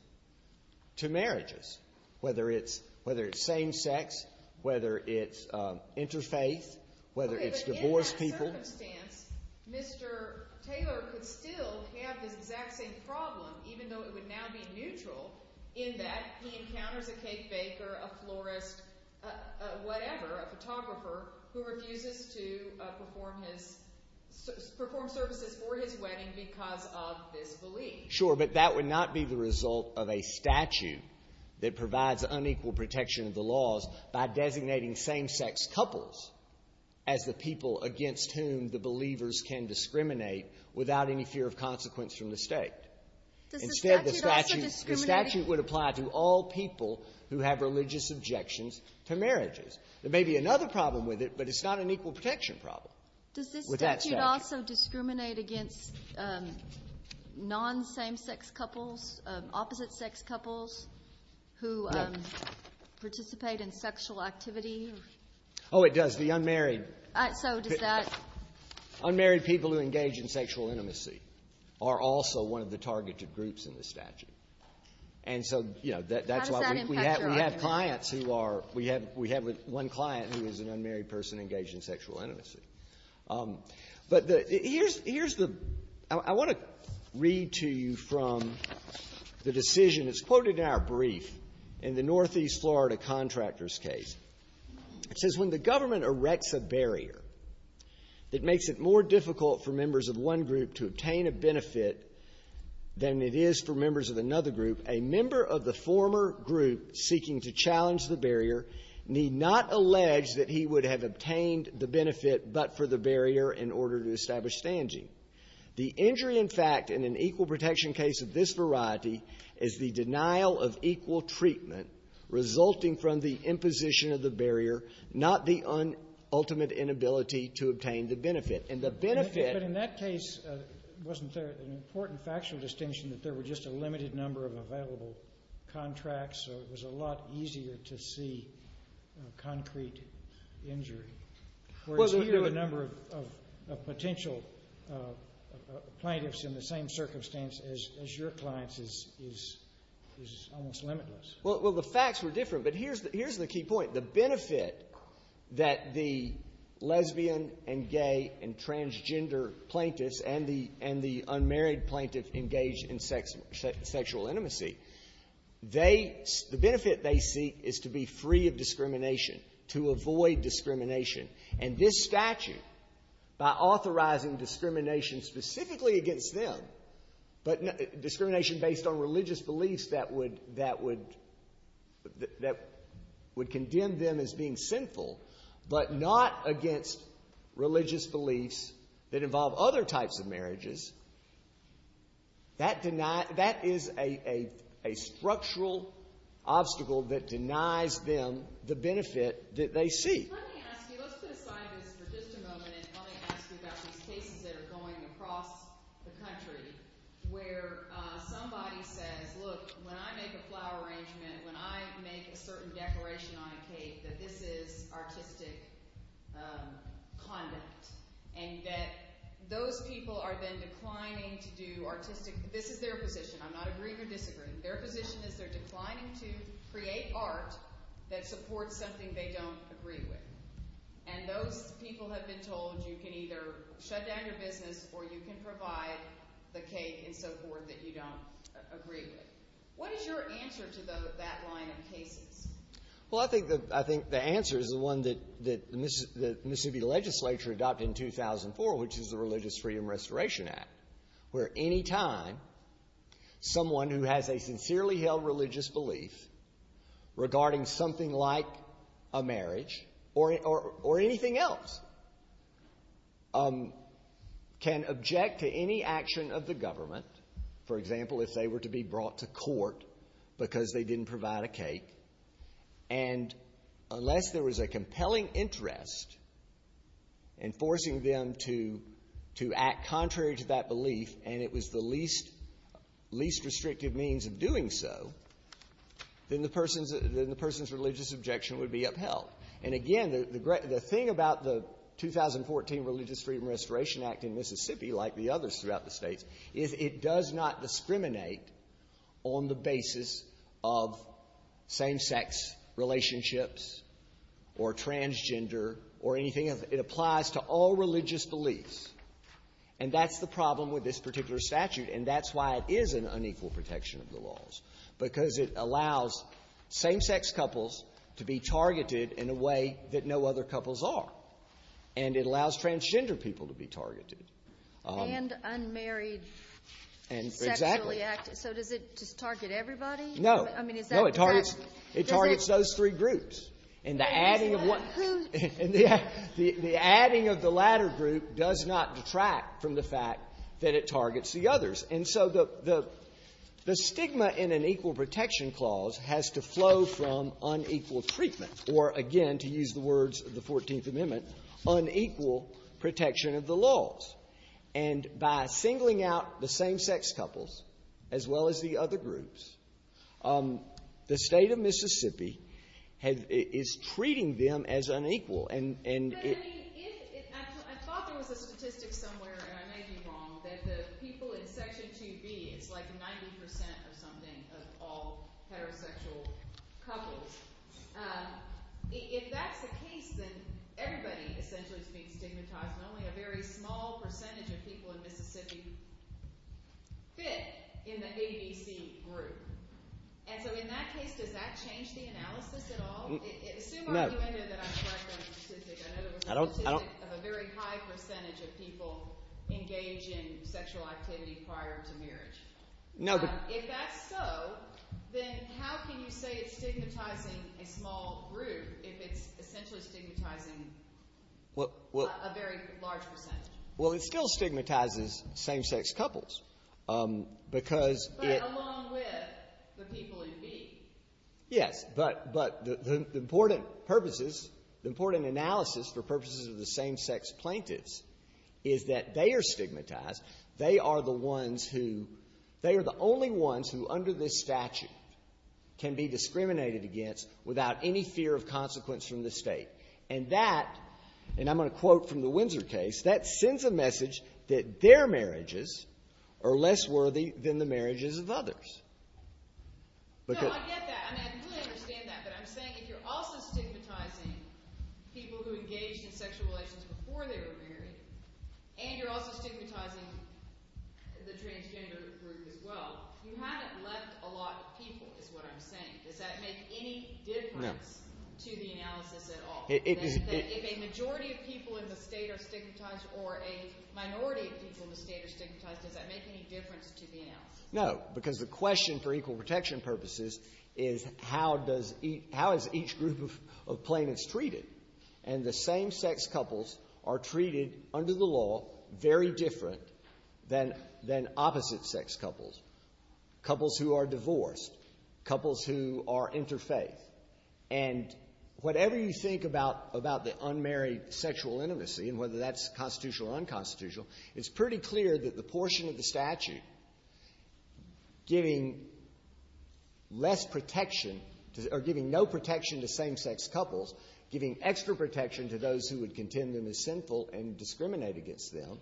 to marriages, whether it's same-sex, whether it's interfaith, whether it's divorced people. And Mr. Taylor could still have the exact same problem, even though it would now be neutral, in that he encounters a cake baker, a florist, whatever, a photographer, who refuses to perform services for his wedding because of his belief. Sure, but that would not be the result of a statute that provides unequal protection of the laws by designating same-sex couples as the people against whom the believers can discriminate without any fear of consequence or mistake. Instead, the statute would apply to all people who have religious objections to marriages. There may be another problem with it, but it's not an equal protection problem with that statute. Does it also discriminate against non-same-sex couples, opposite-sex couples who participate in sexual activity? Oh, it does. The unmarried – So does that – Unmarried people who engage in sexual intimacy are also one of the targeted groups in the statute. And so, you know, that's why we have clients who are – we have one client who is an unmarried person engaged in sexual intimacy. But here's the – I want to read to you from the decision. It's quoted in our brief in the Northeast Florida contractor's case. It says, when the government erects a barrier that makes it more difficult for members of one group to obtain a benefit than it is for members of another group, a member of the former group seeking to challenge the barrier need not allege that he would have obtained the benefit but for the barrier in order to establish standing. The injury, in fact, in an equal protection case of this variety is the denial of equal treatment resulting from the imposition of the barrier, not the ultimate inability to obtain the benefit. And the benefit – But in that case, wasn't there an important factual distinction that there were just a limited number of available contracts, so it was a lot easier to see concrete injury? Whereas here, the number of potential plaintiffs in the same circumstance as your clients is almost limitless. Well, the facts were different, but here's the key point. The benefit that the lesbian and gay and transgender plaintiffs and the unmarried plaintiffs engaged in sexual intimacy, the benefit they seek is to be free of discrimination, to avoid discrimination. And this statute, by authorizing discrimination specifically against them, but discrimination based on religious beliefs that would condemn them as being sinful, but not against religious beliefs that involve other types of marriages, that is a structural obstacle that denies them the benefit that they seek. Let me ask you. Let's simplify this for just a moment and only ask you about these cases that are going across the country where somebody said, look, when I make a flower arrangement, when I make a certain decoration on a case that this is artistic conduct, and that those people are then declining to do artistic, this is their position, I'm not agreeing or disagreeing, their position is they're declining to create art that supports something they don't agree with. And those people have been told you can either shut down your business or you can provide the case and so forth that you don't agree with. What is your answer to that line of thinking? Well, I think the answer is the one that the Mississippi legislature adopted in 2004, which is the Religious Freedom Restoration Act, where any time someone who has a sincerely held religious belief regarding something like a marriage or anything else can object to any action of the government, for example, if they were to be brought to court because they didn't provide a case, and unless there was a compelling interest in forcing them to act contrary to that belief and it was the least restrictive means of doing so, then the person's religious objection would be upheld. And again, the thing about the 2014 Religious Freedom Restoration Act in Mississippi, like the others throughout the states, is it does not discriminate on the basis of same-sex relationships or transgender or anything. It applies to all religious beliefs, and that's the problem with this particular statute, and that's why it is an unequal protection of the laws, because it allows same-sex couples to be targeted in a way that no other couples are, and it allows transgender people to be targeted. And unmarried sexually active. Exactly. So does it target everybody? No. I mean, is that correct? No, it targets those three groups. And the adding of the latter group does not detract from the fact that it targets the others. And so the stigma in an equal protection clause has to flow from unequal treatment, or again, to use the words of the 14th Amendment, unequal protection of the laws. And by singling out the same-sex couples as well as the other groups, the state of Mississippi is treating them as unequal. I thought there was a statistic somewhere, and I may be wrong, that the people in Section 2B is like 90% or something of all heterosexual couples. If that's the case, then everybody essentially is being stigmatized, and only a very small percentage of people in Mississippi fit in the AED group. And so in that case, does that change the analysis at all? No. I don't know. No. Well, it still stigmatizes same-sex couples because it— Yeah, but the important purposes, the important analysis for purposes of the same-sex plaintiffs is that they are stigmatized. They are the ones who—they are the only ones who under this statute can be discriminated against without any fear of consequence from the state. And that—and I'm going to quote from the Windsor case— that sends a message that their marriages are less worthy than the marriages of others. So I get that, and I fully understand that, but I'm saying if you're also stigmatizing people who engaged in sexual relations before they were married, and you're also stigmatizing the transgender group as well, you haven't left a lot of people is what I'm saying. Does that make any difference to the analysis at all? If a majority of people in the state are stigmatized or a minority of people in the state are stigmatized, does that make any difference to the analysis? No, because the question for equal protection purposes is how does each—how is each group of plaintiffs treated? And the same-sex couples are treated under the law very different than opposite-sex couples, couples who are divorced, couples who are interfaith. And whatever you think about the unmarried sexual intimacy, and whether that's constitutional or unconstitutional, it's pretty clear that the portion of the statute giving less protection, or giving no protection to same-sex couples, giving extra protection to those who would contend them as sinful and discriminate against them,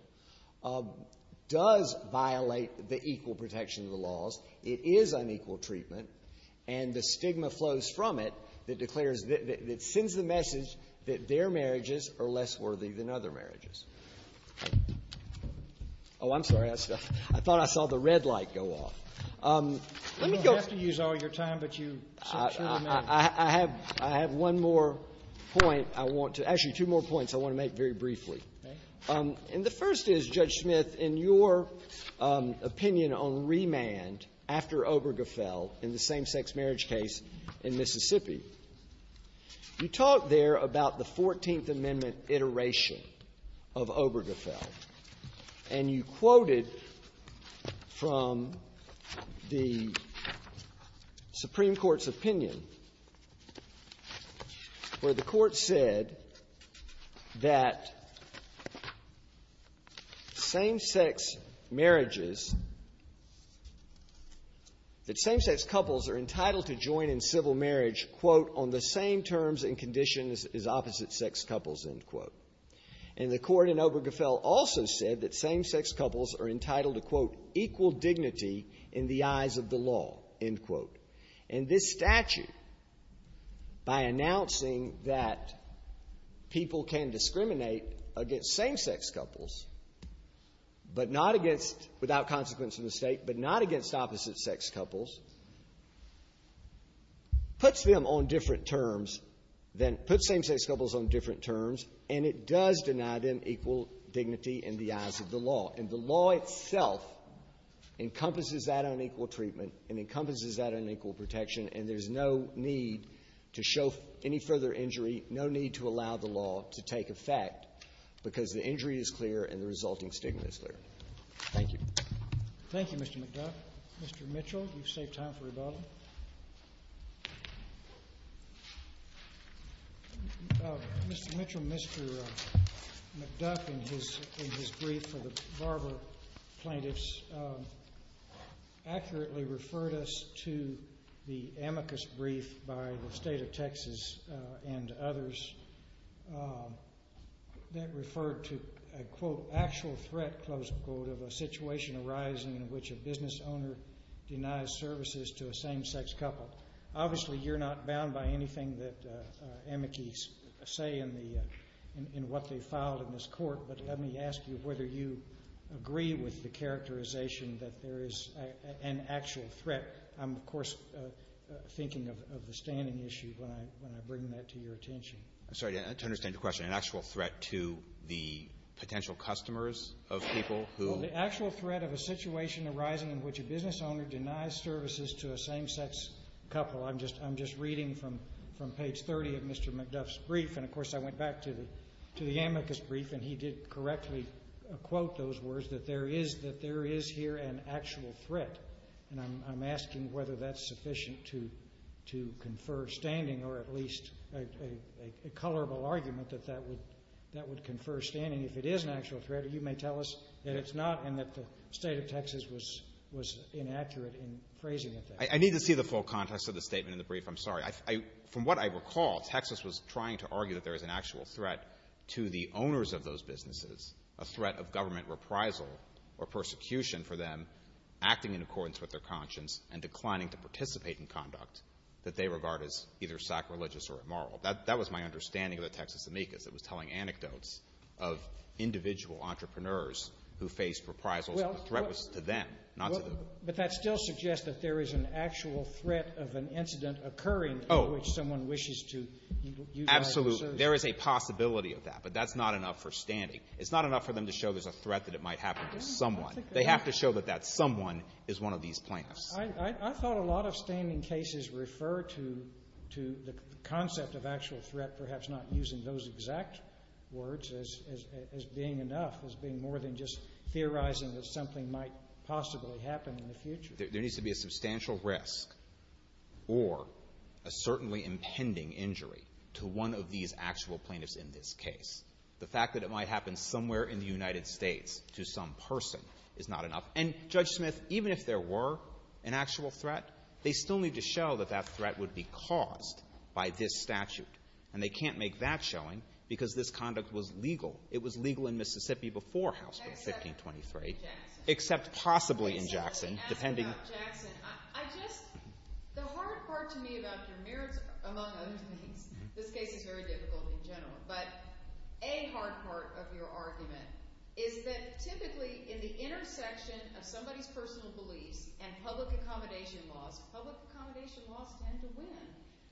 does violate the equal protection of the laws. It is unequal treatment, and the stigma flows from it that declares— that sends the message that their marriages are less worthy than other marriages. Oh, I'm sorry. I thought I saw the red light go off. Let me go— You don't have to use all your time, but you— I have one more point I want to—actually, two more points I want to make very briefly. Okay. And the first is, Judge Smith, in your opinion on remand after Obergefell in the same-sex marriage case in Mississippi, you talk there about the Fourteenth Amendment iteration of Obergefell, and you quoted from the Supreme Court's opinion, where the Court said that same-sex marriages— quote, on the same terms and conditions as opposite-sex couples, end quote. And the Court in Obergefell also said that same-sex couples are entitled to, quote, equal dignity in the eyes of the law, end quote. And this statute, by announcing that people can discriminate against same-sex couples, but not against—without consequence in the state, but not against opposite-sex couples, puts them on different terms than—puts same-sex couples on different terms, and it does deny them equal dignity in the eyes of the law. And the law itself encompasses that unequal treatment and encompasses that unequal protection, and there's no need to show any further injury, no need to allow the law to take effect, because the injury is clear and the resulting stigma is clear. Thank you. Thank you, Mr. McDuff. Mr. Mitchell, you've saved time for a couple. Mr. Mitchell, Mr. McDuff, in his brief for the barber plaintiffs, accurately referred us to the amicus brief by the state of Texas and others that referred to a, quote, actual threat, close quote, of a situation arising in which a business owner denies services to a same-sex couple. Obviously, you're not bound by anything that amicus say in the—in what they filed in this court, but let me ask you whether you agree with the characterization that there is an actual threat. I'm, of course, thinking of the standing issue when I bring that to your attention. I'm sorry, to understand your question, an actual threat to the potential customers of people who— The actual threat of a situation arising in which a business owner denies services to a same-sex couple. I'm just reading from page 30 of Mr. McDuff's brief, and, of course, I went back to the amicus brief, and he did correctly quote those words, that there is here an actual threat. And I'm asking whether that's sufficient to confer standing, or at least a colorable argument that that would confer standing. If it is an actual threat, you may tell us that it's not and that the state of Texas was inaccurate in phrasing it that way. I need to see the full context of the statement in the brief. I'm sorry. From what I recall, Texas was trying to argue that there is an actual threat to the owners of those businesses, a threat of government reprisal or persecution for them acting in accordance with their conscience and declining to participate in conduct that they regard as either sacrilegious or immoral. That was my understanding of the Texas amicus. It was telling anecdotes of individual entrepreneurs who faced reprisals. The threat was to them, not to them. But that still suggests that there is an actual threat of an incident occurring in which someone wishes to deny services. Absolutely. There is a possibility of that, but that's not enough for standing. It's not enough for them to show there's a threat that it might happen to someone. They have to show that that someone is one of these plaintiffs. I thought a lot of standing cases refer to the concept of actual threat perhaps not using those exact words as being enough, as being more than just theorizing that something might possibly happen in the future. There needs to be a substantial risk or a certainly impending injury to one of these actual plaintiffs in this case. The fact that it might happen somewhere in the United States to some person is not enough. And, Judge Smith, even if there were an actual threat, they still need to show that that threat would be caused by this statute. And they can't make that showing because this conduct was legal. It was legal in Mississippi before House Bill 1523, except possibly in Jackson, depending. The hard part to me about your mirror among other things, this case is very difficult in general, but a hard part of your argument is that typically in the intersection of somebody's personal beliefs and public accommodation laws, public accommodation laws tend to win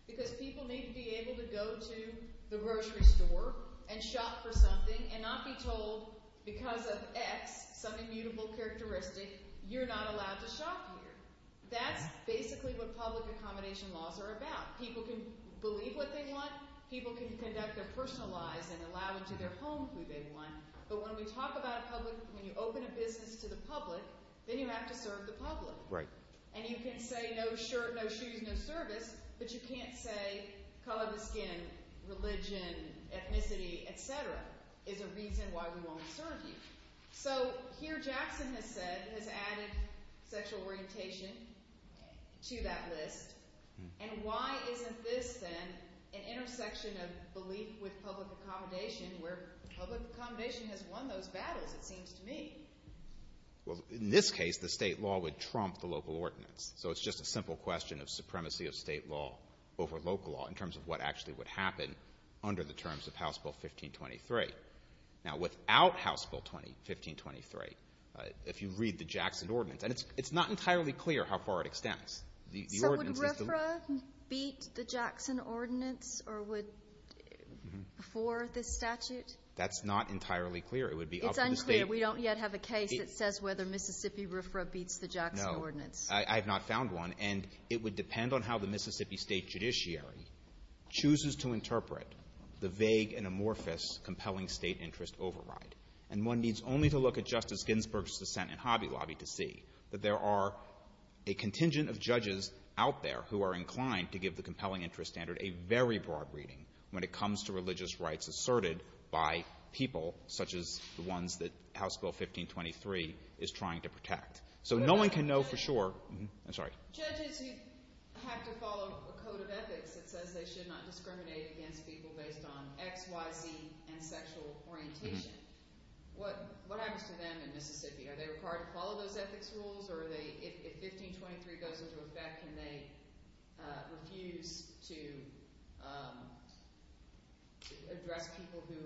because people need to be able to go to the grocery store and shop for something and not be told because of X, some immutable characteristic, you're not allowed to shop here. That's basically what public accommodation laws are about. People can believe what they want. People can conduct their personal lives and allow them to their homes where they want. But when we talk about public, when you open a business to the public, then you have to serve the public. And you can say no shirt, no shoes, no service, but you can't say color of skin, religion, ethnicity, etc. is a reason why we won't return you. So here Jackson has said, has added sexual orientation to that list, and why is this then an intersection of beliefs with public accommodation where public accommodation has won those battles, it seems to me? In this case, the state law would trump the local ordinance. So it's just a simple question of supremacy of state law over local law in terms of what actually would happen under the terms of House Bill 1523. Now without House Bill 1523, if you read the Jackson Ordinance, and it's not entirely clear how far it extends. Would RFRA beat the Jackson Ordinance for this statute? That's not entirely clear. It's unclear. We don't yet have a case that says whether Mississippi RFRA beats the Jackson Ordinance. No, I have not found one. And it would depend on how the Mississippi State Judiciary chooses to interpret the vague and amorphous compelling state interest override. And one needs only to look at Justice Ginsburg's dissent in Hobby Lobby to see that there are a contingent of judges out there who are inclined to give the compelling interest standard a very broad reading when it comes to religious rights asserted by people such as the ones that House Bill 1523 is trying to protect. So no one can know for sure. I'm sorry. Judges have to follow a code of ethics that says they should not discriminate against people based on X, Y, Z, and sexual orientation. What happens to them in Mississippi? Are they required to follow those ethics rules? Or if 1523 does deserve respect, can they refuse to address people who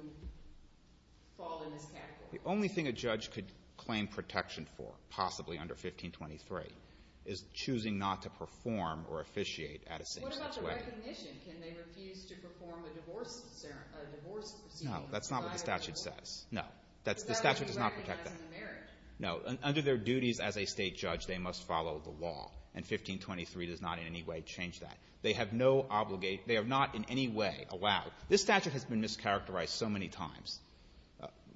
fall in this category? The only thing a judge could claim protection for, possibly under 1523, is choosing not to perform or officiate at a state situation. What about the recognition? Can they refuse to perform a divorce? No, that's not what the statute says. No. The statute does not protect them. No. Under their duties as a state judge, they must follow the law. And 1523 does not in any way change that. They have no obligation — they are not in any way allowed. This statute has been mischaracterized so many times,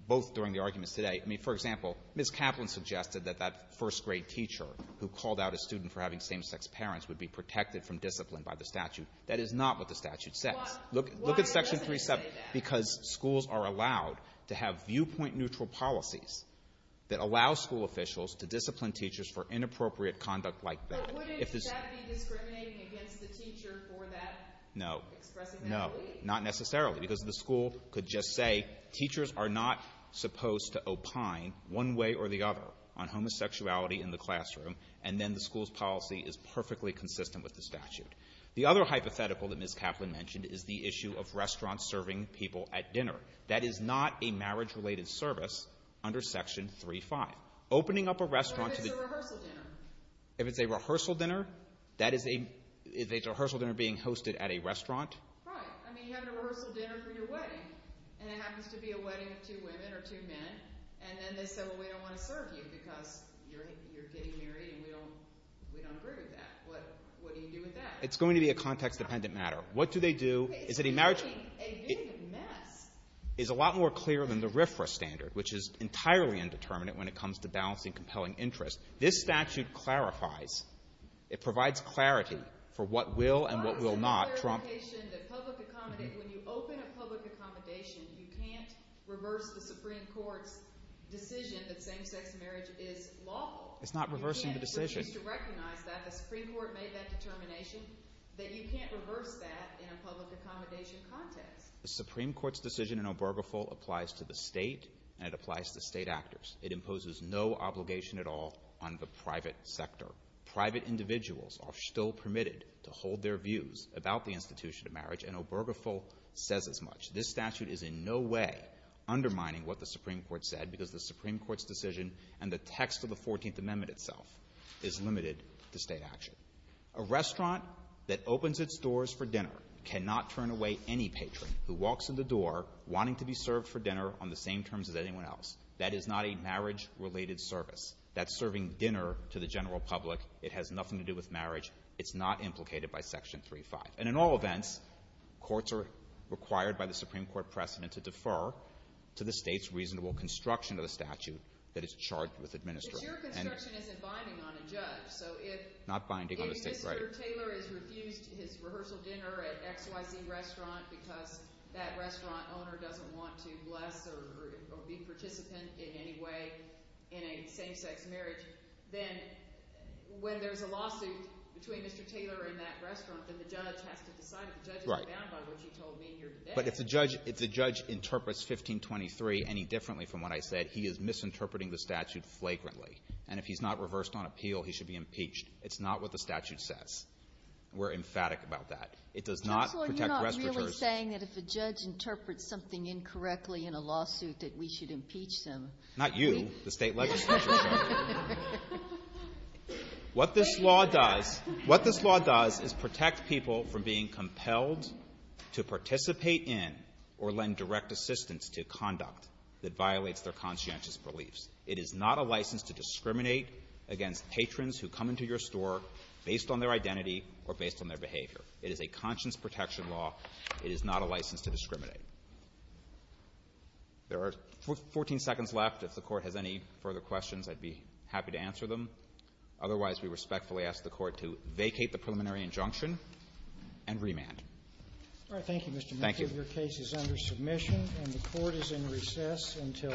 both during the arguments today. I mean, for example, Ms. Kaplan suggested that that first-grade teacher who called out a student for having same-sex parents would be protected from discipline by the statute. That is not what the statute says. Look at Section 3. Because schools are allowed to have viewpoint-neutral policies that allow school officials to discipline teachers for inappropriate conduct like that. No. Not necessarily, because the school could just say, teachers are not supposed to opine one way or the other on homosexuality in the classroom, and then the school's policy is perfectly consistent with the statute. The other hypothetical that Ms. Kaplan mentioned is the issue of restaurants serving people at dinner. That is not a marriage-related service under Section 3.5. Opening up a restaurant — If it's a rehearsal dinner. If it's a rehearsal dinner? That is a — is a rehearsal dinner being hosted at a restaurant? Right. I mean, you have a rehearsal dinner for your wedding, and it happens to be a wedding with two women or two men, and then they say, well, we don't want to serve you because you're getting married and we don't agree with that. What do you do with that? It's going to be a context-dependent matter. What do they do? A wedding is a mess. It's a lot more clear than the RFRA standard, which is entirely indeterminate when it comes to balancing compelling interests. This statute clarifies. It provides clarity for what will and what will not trump — When you open a public accommodation, you can't reverse the Supreme Court's decision that same-sex marriage is lawful. It's not reversing the decision. You should recognize that. The Supreme Court made that determination, that you can't reverse that in a public accommodation context. The Supreme Court's decision in Obergefell applies to the state, and it applies to the state actors. It imposes no obligation at all on the private sector. Private individuals are still permitted to hold their views about the institution of marriage, and Obergefell says as much. This statute is in no way undermining what the Supreme Court said, because the Supreme Court's decision and the text of the 14th Amendment itself is limited to state action. A restaurant that opens its doors for dinner cannot turn away any patron who walks in the door wanting to be served for dinner on the same terms as anyone else. That is not a marriage-related service. That's serving dinner to the general public. It has nothing to do with marriage. It's not implicated by Section 3.5. And in all events, courts are required by the Supreme Court precedent to defer to the state's reasonable construction of the statute that is charged with administering. If your construction isn't binding on the judge, so if Mr. Taylor is refused his rehearsal dinner at XYZ restaurant because that restaurant owner doesn't want to bless or be participant in any way in a same-sex marriage, then when there's a lawsuit between Mr. Taylor and that restaurant, then the judge has to decide. The judge is bound by what you told me here today. But if the judge interprets 1523 any differently from what I said, he is misinterpreting the statute flagrantly. And if he's not reversed on appeal, he should be impeached. It's not what the statute says. We're emphatic about that. It does not protect restaurant owners. Well, you're not really saying that if the judge interprets something incorrectly in a lawsuit that we should impeach them. Not you. The state legislature. What this law does is protect people from being compelled to participate in or lend direct assistance to conduct that violates their conscientious beliefs. It is not a license to discriminate against patrons who come into your store based on their identity or based on their behavior. It is a conscience protection law. It is not a license to discriminate. There are 14 seconds left. If the court has any further questions, I'd be happy to answer them. Otherwise, we respectfully ask the court to vacate the preliminary injunction and remand. Thank you. Your case is under submission and the court is in recess until 8 p.m.